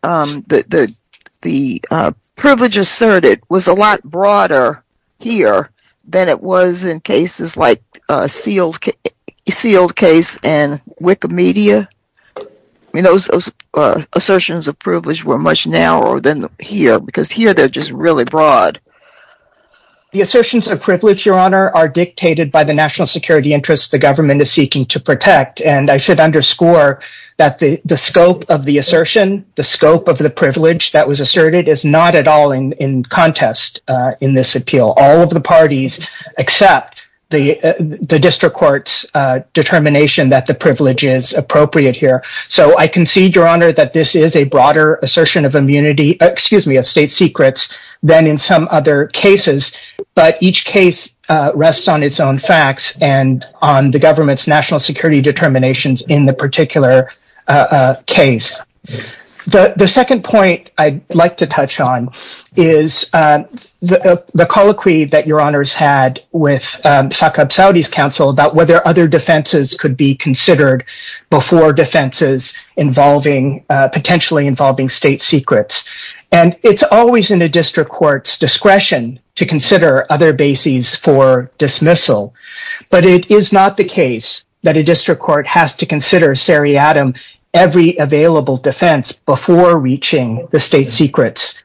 the privilege asserted was a lot broader here than it was in cases like a sealed sealed case and Wikimedia. We know those assertions of privilege were much narrower than here because here they're just really broad. The assertions of privilege, your honor are dictated by the national security interests. The government is seeking to protect, and I should underscore that the scope of the assertion, the scope of the privilege that was asserted is not at all in contest in this appeal. All of the parties accept the district court's determination that the privilege is appropriate here. So I concede your honor that this is a broader assertion of immunity, excuse me, of state secrets than in some other cases, but each case rests on its own facts and on the government's national security determinations in the particular case. The second point I'd like to touch on is the, the colloquy that your honors had with Saqqab Saudi's council about whether other defenses could be considered before defenses involving potentially involving state secrets. And it's always in a district court's discretion to consider other bases for dismissal, but it is not the case that a district court has to consider seriatim, every available defense before reaching the state secrets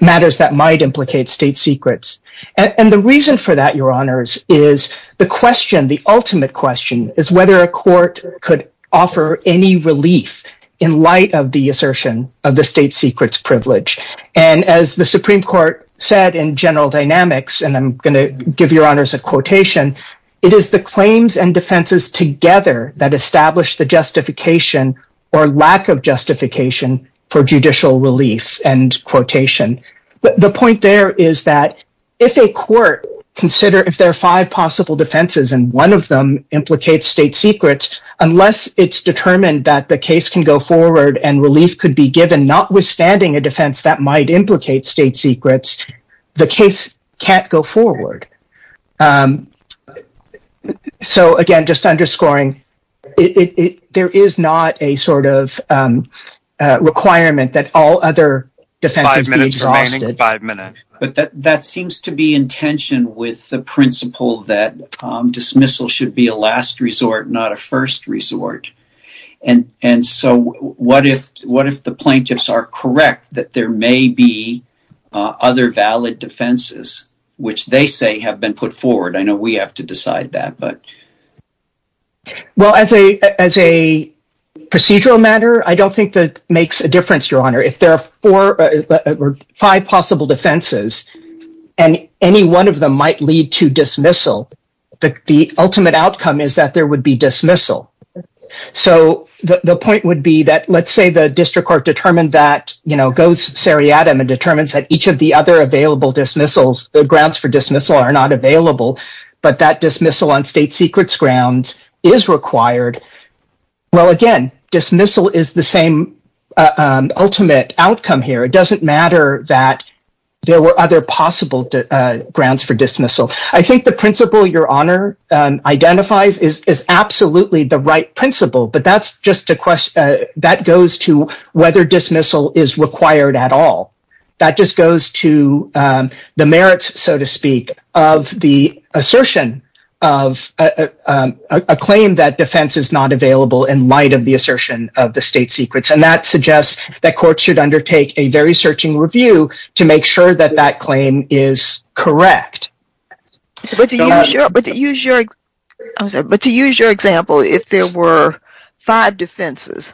matters that might implicate state secrets. And the reason for that, your honors is the question. The ultimate question is whether a court could offer any relief in light of the assertion of the state secrets privilege. And as the Supreme court said in general dynamics, and I'm going to give your honors a quotation, it is the claims and defenses together that establish the justification or lack of justification for judicial relief and quotation. But the point there is that if a court consider, if there are five possible defenses and one of them implicate state secrets, unless it's determined that the case can go forward and relief could be given, not withstanding a defense that might implicate state secrets, the case can't go forward. So again, just underscoring it, there is not a sort of requirement that all other defense five minutes, but that, that seems to be intention with the principle that dismissal should be a last resort, not a first resort. And, and so what if, what if the plaintiffs are correct that there may be other valid defenses, which they say have been put forward? I know we have to decide that, but. Well, as a, as a procedural matter, I don't think that makes a difference, your honor. If there are four, five possible defenses and any one of them might lead to dismissal, the ultimate outcome is that there would be dismissal. So the point would be that let's say the district court determined that, you know, goes seriatim and determines that each of the other available dismissals, the grounds for dismissal are not available, but that dismissal on state secrets grounds is required. Well, again, dismissal is the same ultimate outcome here. It doesn't matter that there were other possible grants for dismissal. I think the principle your honor identifies is absolutely the right principle, but that's just a question that goes to whether dismissal is required at all that just goes to the merits, so to speak of the assertion of a claim that defense is not available in light of the assertion of the state secrets. And that suggests that courts should undertake a very searching review to make sure that that claim is correct. But to use your example, if there were five defenses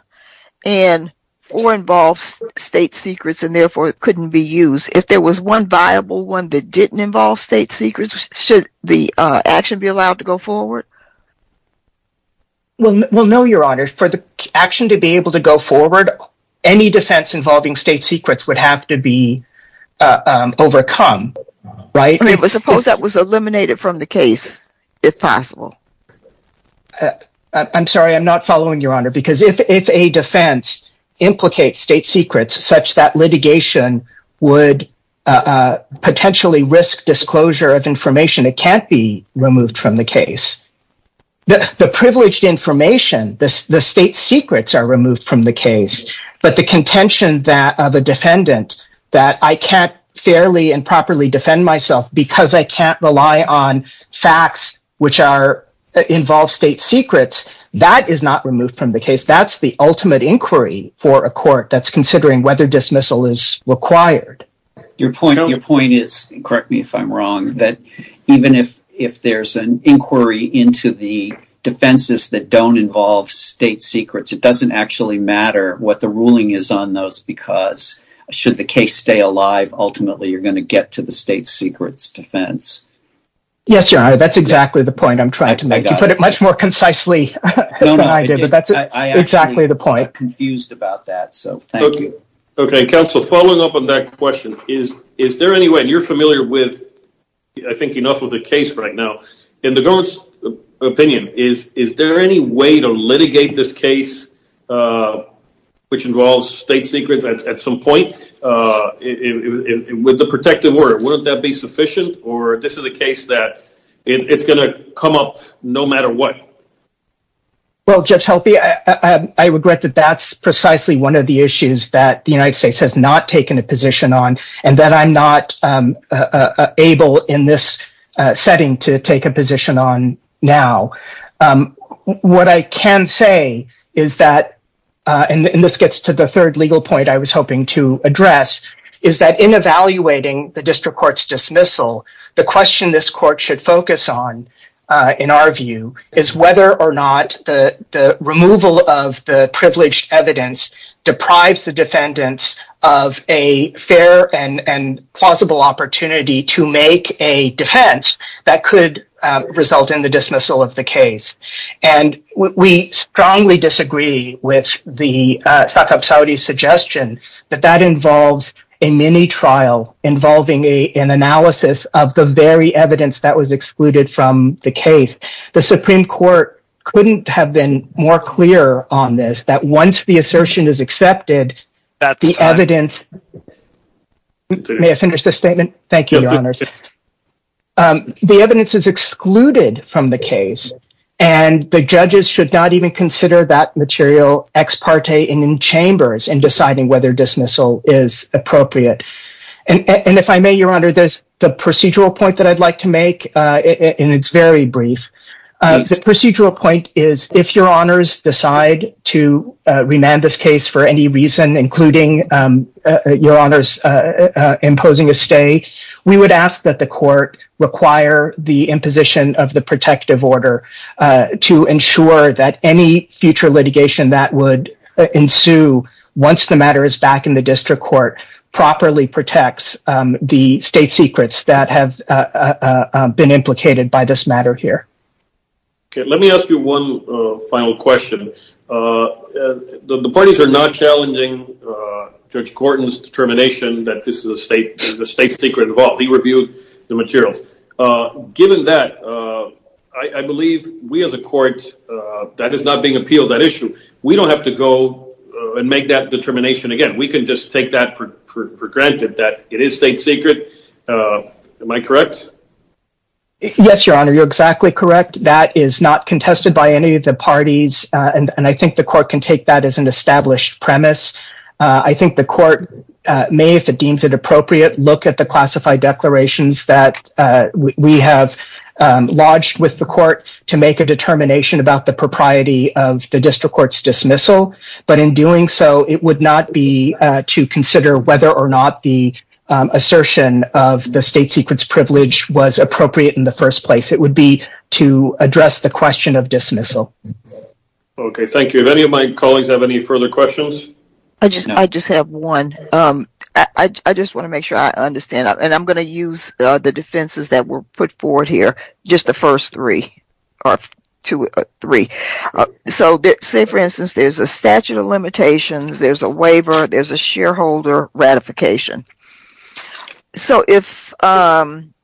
and four involves state secrets and therefore it couldn't be used, if there was one viable one that didn't involve state secrets, should the action be allowed to go forward? We'll know your honor for the action to be able to go forward. Any defense involving state secrets would have to be overcome, right? I mean, but suppose that was eliminated from the case if possible. I'm sorry, I'm not following your honor because if, if a defense implicate state secrets such that litigation would potentially risk disclosure of information, it can't be removed from the case. The privileged information, the state secrets are removed from the case, but the contention that of a defendant that I can't fairly and properly defend myself because I can't rely on facts, which are involved state secrets that is not removed from the case. That's the ultimate inquiry for a court. That's considering whether dismissal is required. Your point, your point is correct me if I'm wrong, that even if, if there's an inquiry into the defenses that don't involve state secrets, it doesn't actually matter what the ruling is on those because should the case stay alive, ultimately you're going to get to the state secrets defense. Yes, your honor. That's exactly the point I'm trying to make. You put it much more concisely. That's exactly the point. Confused about that. So thank you. Counsel, following up on that question is, is there any way you're familiar with? I think enough of the case right now in the ghost opinion is, is there any way to litigate this case which involves state secrets at some point with the protective word? Wouldn't that be sufficient or this is a case that it's going to come up no matter what. just help me. I regret that. That's precisely one of the issues that the United States has not taken a position on. And then I'm not able in this setting to take a position on now. What I can say is that, and this gets to the third legal point I was hoping to address is that in evaluating the district court's dismissal, the question this court should focus on in our view is whether or not the privileged evidence deprives the defendants of a fair and plausible opportunity to make a defense that could result in the dismissal of the case. And we strongly disagree with the Saudi suggestion that that involves a mini trial involving a, an analysis of the very evidence that was excluded from the case. The Supreme court couldn't have been more clear on this, that once the assertion is accepted, the evidence may have finished the statement. Thank you. The evidence is excluded from the case and the judges should not even consider that material ex parte in chambers and deciding whether dismissal is appropriate. And if I may, your honor, the procedural point that I'd like to make in it's very brief. The procedural point is if your honors decide to remand this case for any reason, including your honors imposing a state, we would ask that the court require the imposition of the protective order to ensure that any future litigation that would ensue once the matter is back in the district court properly protects the state secrets that have been implicated by this matter here. Okay. Let me ask you one final question. The parties are not challenging judge Gordon's determination that this is a state, the state secret involved. He reviewed the materials. Given that, I believe we as a court that is not being appealed that issue. We don't have to go and make that determination. Again, we can just take that for granted that it is state secret. Am I correct? Yes, your honor. You're exactly correct. That is not contested by any of the parties. And I think the court can take that as an established premise. I think the court may, if it deems it appropriate, look at the classified declarations that we have lodged with the court to make a determination about the propriety of the district court's dismissal, but in doing so, it would not be to consider whether or not the assertion of the state secrets privilege was appropriate in the first place. It would be to address the question of dismissal. Okay. Thank you. Any of my colleagues have any further questions? I just, I just have one. I just want to make sure I understand. And I'm going to use the defenses that were put forward here. Just the first three or two or three. So say for instance, there's a statute of limitations, there's a waiver, there's a shareholder ratification. So if, looking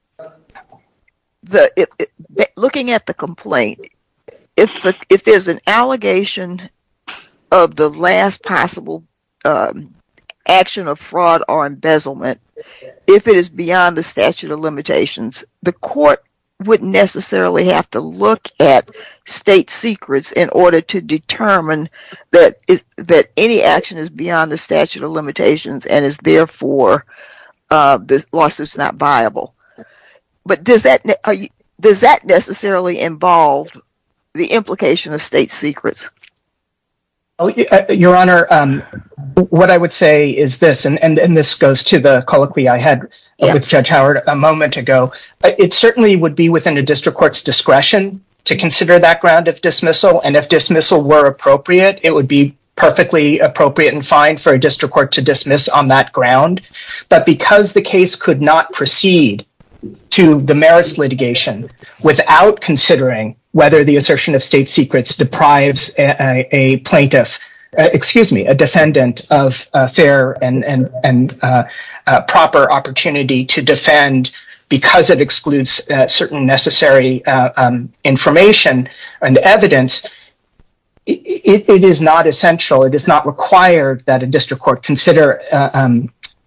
at the complaint, if there's an allegation of the last possible action of fraud or embezzlement, if it is beyond the statute of limitations, the court wouldn't necessarily have to look at state secrets in order to say that any action is beyond the statute of limitations and is therefore the law is not viable. But does that, does that necessarily involve the implication of state secrets? Your honor, what I would say is this, and this goes to the colloquy I had with judge Howard a moment ago, it certainly would be within a district court's discretion to consider that grounds of dismissal. And if dismissal were appropriate, it would be perfectly appropriate and fine for a district court to dismiss on that ground. But because the case could not proceed to the merits litigation without considering whether the assertion of state secrets deprives a plaintiff, excuse me, a defendant of a fair and proper opportunity to defend because it excludes certain necessary information and evidence. It is not essential. It does not require that a district court consider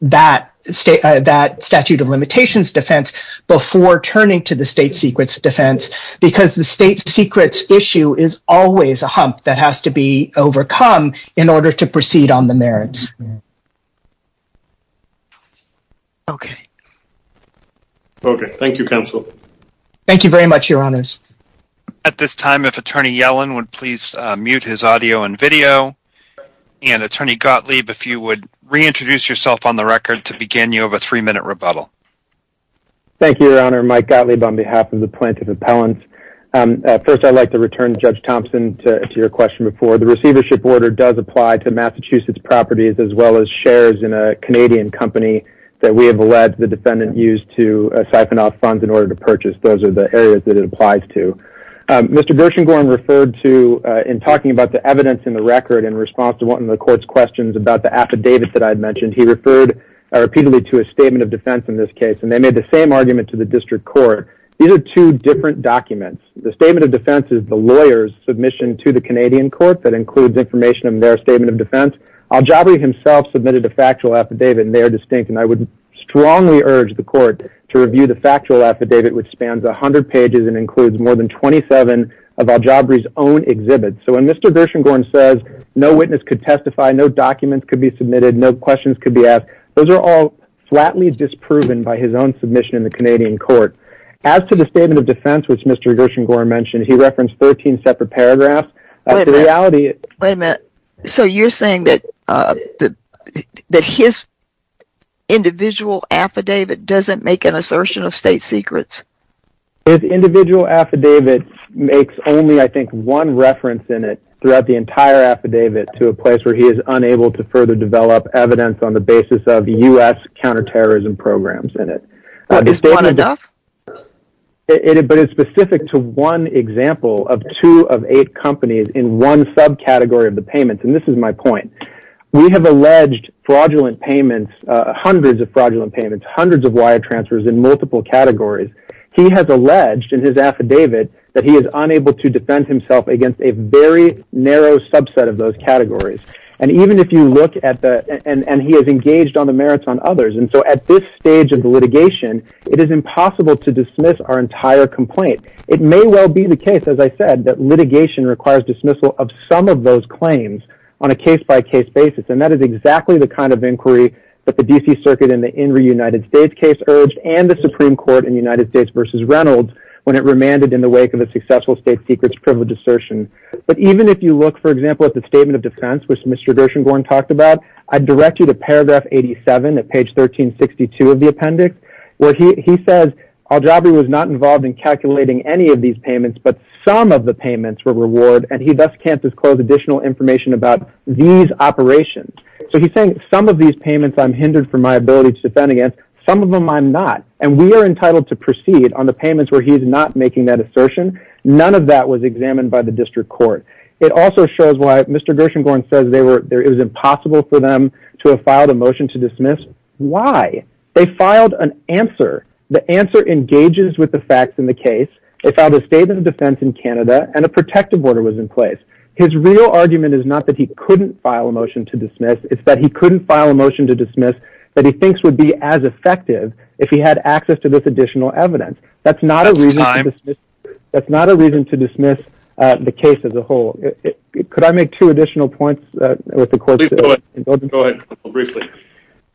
that state, that statute of limitations defense before turning to the state secrets defense because the state secrets issue is always a hump that has to be overcome in order to proceed on the merits. Okay. Okay. Thank you counsel. Thank you very much, your honors. At this time, if attorney Yellen would please mute his audio and video. And attorney Gottlieb, if you would reintroduce yourself on the record to begin, you have a three minute rebuttal. Thank you, your honor. Mike Gottlieb on behalf of the plaintiff appellants. First, I'd like to return judge Thompson to your question before the receivership order does apply to Massachusetts properties as well as shares in a the defendant used to siphon off funds in order to purchase. Those are the areas that it applies to. Mr. Gershengorn referred to, in talking about the evidence in the record in response to one of the court's questions about the affidavits that I'd mentioned, he referred repeatedly to a statement of defense in this case, and they made the same argument to the district court. These are two different documents. The statement of defense is the lawyer's submission to the Canadian court that includes information on their statement of defense. Jabari himself submitted a factual affidavit. And they are distinct and I would strongly urge the court to review the factual affidavit, which spans a hundred pages and includes more than 27 of our jobbers own exhibits. So when Mr. Gershengorn says no witness could testify, no documents could be submitted, no questions could be asked. Those are all flatly disproven by his own submission in the Canadian court. As to the statement of defense, which Mr. Gershengorn mentioned, he referenced 13 separate paragraphs. The reality. Wait a minute. So you're saying that, uh, that his individual affidavit doesn't make an assertion of state secrets. His individual affidavits makes only, I think one reference in it throughout the entire affidavit to a place where he was unable to further develop evidence on the basis of the U.S. counterterrorism programs in it. But it's specific to one example of two of eight companies in one subcategory of the payment. And this is my point. We have alleged fraudulent payments, hundreds of fraudulent payments, hundreds of wire transfers in multiple categories. He has alleged in his affidavit that he is unable to defend himself against a very narrow subset of those categories. And even if you look at the, and, and he has engaged on the merits on others. And so at this stage of the litigation, it is impossible to dismiss our entire complaint. It may well be the case, as I said, that litigation requires dismissal of some of those claims on a case by case basis. And that is exactly the kind of inquiry that the DC circuit in the in reunited state case urged and the Supreme court in the United States versus Reynolds when it remanded in the wake of a successful state secrets privilege assertion. But even if you look, for example, at the statement of defense, which Mr. Gershengorn talked about, I direct you to paragraph 87 at page 1362 of the appendix where he, he says our job, he was not involved in calculating any of these payments, but some of the payments were reward. And he best can't disclose additional information about these operations. So he's saying some of these payments I'm hindered from my ability to defend against some of them. I'm not, and we are entitled to proceed on the payments where he's not making that assertion. None of that was examined by the district court. It also shows why Mr. Gershengorn says they were, there is impossible for them to have filed a motion to dismiss. Why? They filed an answer. The answer engages with the facts in the case. They found a statement of defense in Canada and a protective order was in place. His real argument is not that he couldn't file a motion to dismiss. It's that he couldn't file a motion to dismiss that he thinks would be as effective if he had access to this additional evidence. That's not a reason. That's not a reason to dismiss the case as a whole. Could I make two additional points with the court? Go ahead.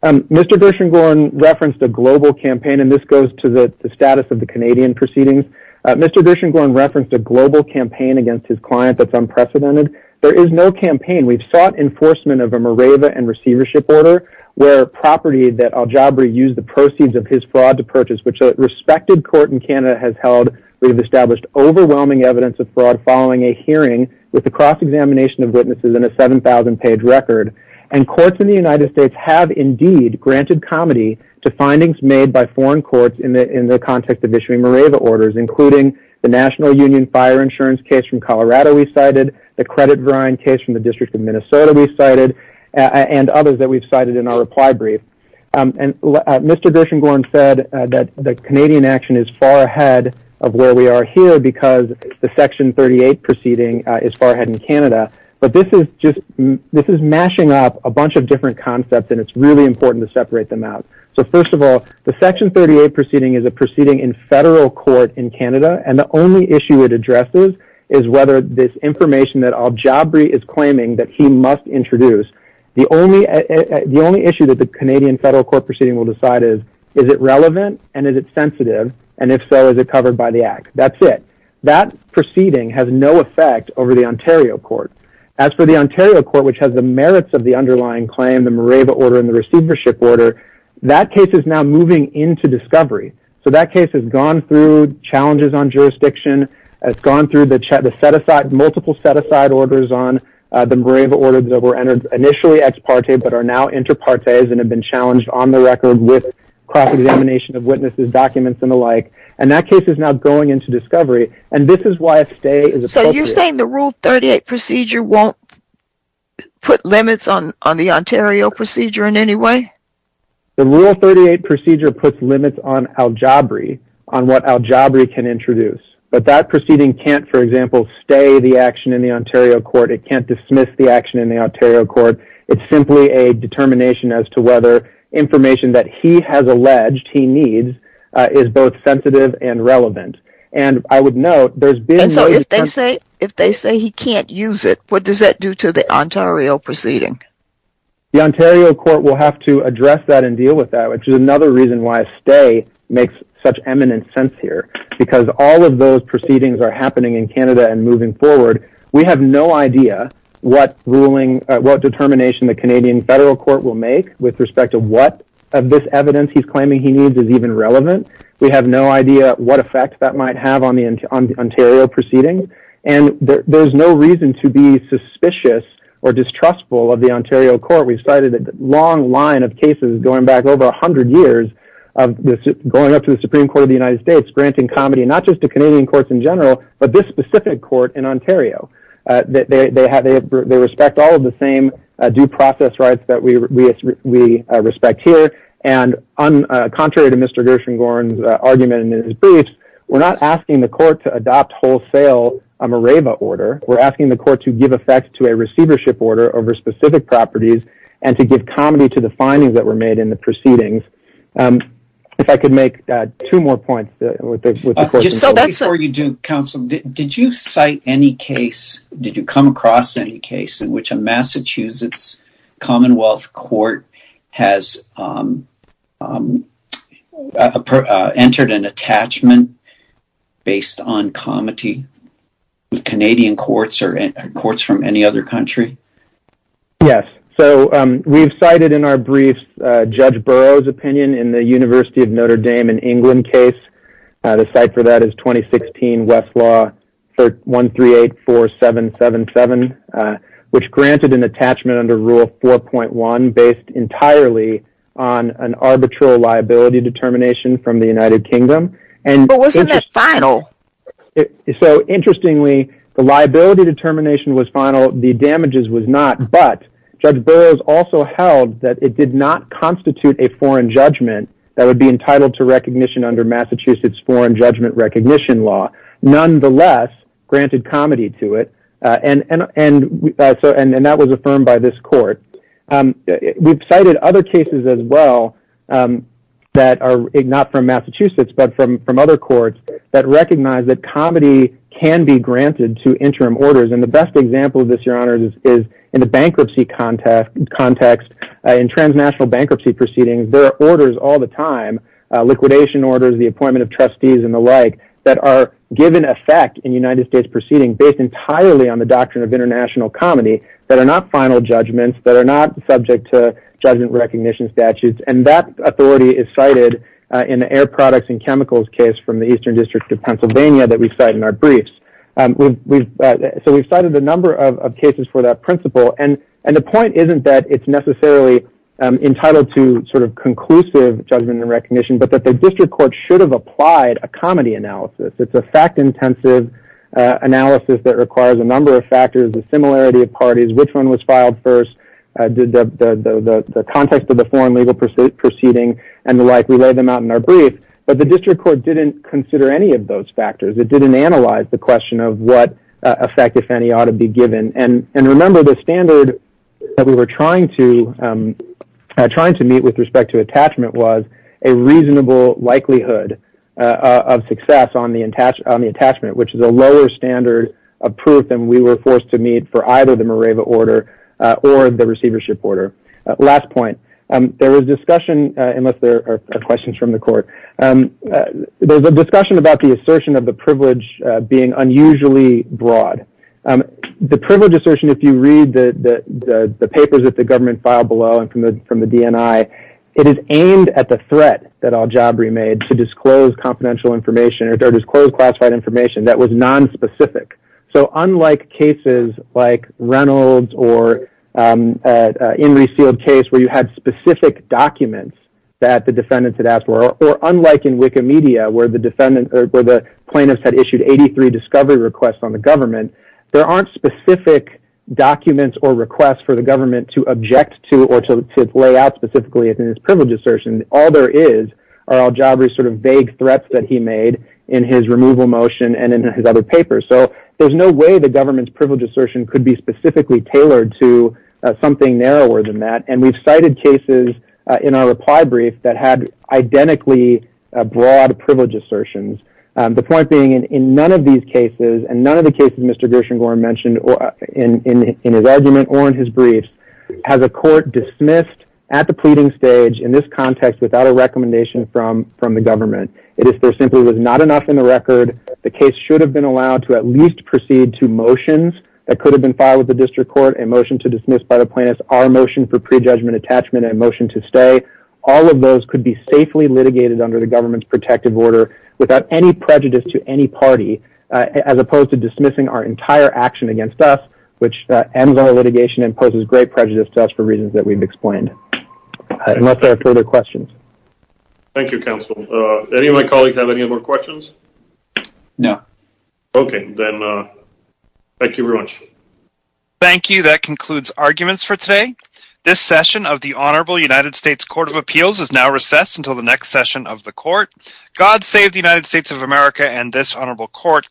Mr. Gershengorn referenced a global campaign, and this goes to the status of the Canadian proceedings. Mr. Gershengorn referenced a global campaign against his client. That's unprecedented. There is no campaign. We've sought enforcement of a Mareva and receivership order where property that Aljabri used the proceeds of his fraud to purchase, which a respected court in Canada has held. We've established overwhelming evidence of fraud following a hearing with the cross examination of witnesses in a 7,000 page record and courts in the United States have indeed granted comedy to findings made by foreign courts in the, in the context of issuing Mareva orders, including the national union fire insurance case from Colorado. We cited the credit grind case from the district of Minnesota. We cited and others that we've cited in our reply brief. And Mr. Gershengorn said that the Canadian action is far ahead of where we are here because the section 38 proceeding is far ahead in Canada, but this is just, this is mashing up a bunch of different concepts and it's really important to separate them out. So first of all, the section 38 proceeding is a proceeding in federal court in Canada. And the only issue it addresses is whether this information that Aljabri is claiming that he must introduce the only, the only issue that the Canadian federal court proceeding will decide is, is it relevant? And is it sensitive? And if so, is it covered by the act? That's it. That proceeding has no effect over the Ontario court. As for the Ontario court, which has the merits of the underlying claim, the Mareva order and the receivership order, that case is now moving into discovery. So that case has gone through challenges on jurisdiction. It's gone through the set-aside, multiple set-aside orders on the Mareva order that were entered initially ex parte, but are now inter partes and have been challenged on the record with cross examination of witnesses, documents and the like. And that case is now going into discovery. And this is why a stay is appropriate. So you're saying the rule 38 procedure won't put limits on, on the Ontario procedure in any way? The rule 38 procedure puts limits on Aljabri, on what Aljabri can introduce, but that proceeding can't, for example, stay the action in the Ontario court. It can't dismiss the action in the Ontario court. It's simply a determination as to whether information that he has alleged he needs is both sensitive and relevant. And I would note there's been. If they say, if they say he can't use it, what does that do to the Ontario proceeding? The Ontario court will have to address that and deal with that, which is another reason why stay makes such eminent sense here, because all of those proceedings are happening in Canada and moving forward. We have no idea what ruling, what determination the Canadian federal court will make with respect to what of this evidence he's claiming he needs is even relevant. We have no idea what effect that might have on the Ontario proceeding. And there's no reason to be suspicious or distrustful of the Ontario court. We've cited a long line of cases going back over a hundred years of going up to the Supreme court of the United States, granting comedy, not just to Canadian courts in general, but this specific court in Ontario, that they have, they respect all of the same due process rights that we, we respect here. And on contrary to Mr. Gershengorn's argument in his briefs, we're not asking the court to adopt wholesale MREBA order. We're asking the court to give effect to a receivership order over specific properties and to give comedy to the findings that were made in the proceedings. If I could make two more points. Before you do counsel, did you cite any case? Did you come across any case in which a Massachusetts Commonwealth court has entered an attachment based on comedy, Canadian courts or courts from any other country? Yes. So, um, we've cited in our briefs, uh, judge Burroughs opinion in the university of Notre Dame in England case. Uh, the site for that is 2016 Westlaw for one, three, eight, four, seven, seven, seven, uh, which granted an attachment under rule 4.1 based entirely on an arbitral liability determination from the United Kingdom. And it's just final. So interestingly, the liability determination was final. The damages was not, but judge Burroughs also held that it did not constitute a foreign judgment that would be entitled to recognition under Massachusetts foreign judgment recognition law, nonetheless, granted comedy to it. Uh, and, and, and, and that was affirmed by this court. Um, we've cited other cases as well, um, that are not from Massachusetts, but from, from other courts that recognize that comedy can be granted to interim orders. And the best example of this, your honors is in the bankruptcy context context in transnational bankruptcy proceedings, there are orders all the time, uh, liquidation orders, the appointment of trustees and the like that are given effect in United States proceeding based entirely on the doctrine of international comedy that are not final judgments that are not subject to judgment recognition statutes. And that authority is cited, uh, in the air products and chemicals case from the Eastern district of Pennsylvania that we cite in our briefs. Um, we've, we've, uh, so we've cited a number of cases for that principle and, and the point isn't that it's necessarily, um, entitled to sort of conclusive judgment and recognition, but that the district court should have applied a comedy analysis. It's a fact intensive, uh, analysis that requires a number of factors and similarity of parties, which one was filed first, uh, did the, the, the, the context of the foreign legal pursuit proceeding and the like. We laid them out in our brief, but the district court didn't consider any of those factors. It didn't analyze the question of what effect if any ought to be given. And, and, and remember the standard that we were trying to, um, trying to meet with respect to attachment was a reasonable likelihood, uh, of success on the, on the attachment, which is a lower standard of proof. And we were forced to meet for either the Morava order, uh, or the receivership order. Uh, last point, um, there was discussion, uh, unless there are questions from the court, um, there's a discussion about the assertion of the privilege, uh, being unusually broad. Um, the privilege assertion, if you read the, the, the papers that the government filed below and from the, from the DNI, it is aimed at the threat that I'll job remade to disclose confidential information or disclose classified information that was nonspecific. So unlike cases like Reynolds or, um, uh, uh, in resealed case where you had specific documents that the defendants had asked for, or unlike in Wikimedia, where the defendant, or the plaintiffs had issued 83 discovery requests on the government, there aren't specific documents or requests for the government to object to, or to lay out specifically it's in his privilege assertion. All there is our job is sort of vague threats that he made in his removal motion and in his other papers. So there's no way the government's privilege assertion could be specifically tailored to something narrower than that. And we've cited cases in our reply brief that had identically a broad privilege assertions. Um, the point being in, in none of these cases, and none of the cases, Mr. Gershengorn mentioned in, in, in his argument or in his briefs has a court dismissed at the pleading stage in this context, without a recommendation from, from the government. It is there simply was not enough in the record. The case should have been allowed to at least proceed to motions that could have been filed with the district court and motion to dismiss by the plaintiffs, our motion for prejudgment attachment and motion to stay. All of those could be safely litigated under the government's protective order without any prejudice to any party, as opposed to dismissing our entire action against us, which ends on a litigation and poses great prejudice to us for reasons that we've explained, unless there are further questions. Thank you. Counsel, uh, any of my colleagues have any more questions? No. Okay. Thank you very much. Thank you. That concludes arguments for today. This session of the honorable United States court of appeals is now recessed until the next session of the court. God save the United States of America. And this honorable court.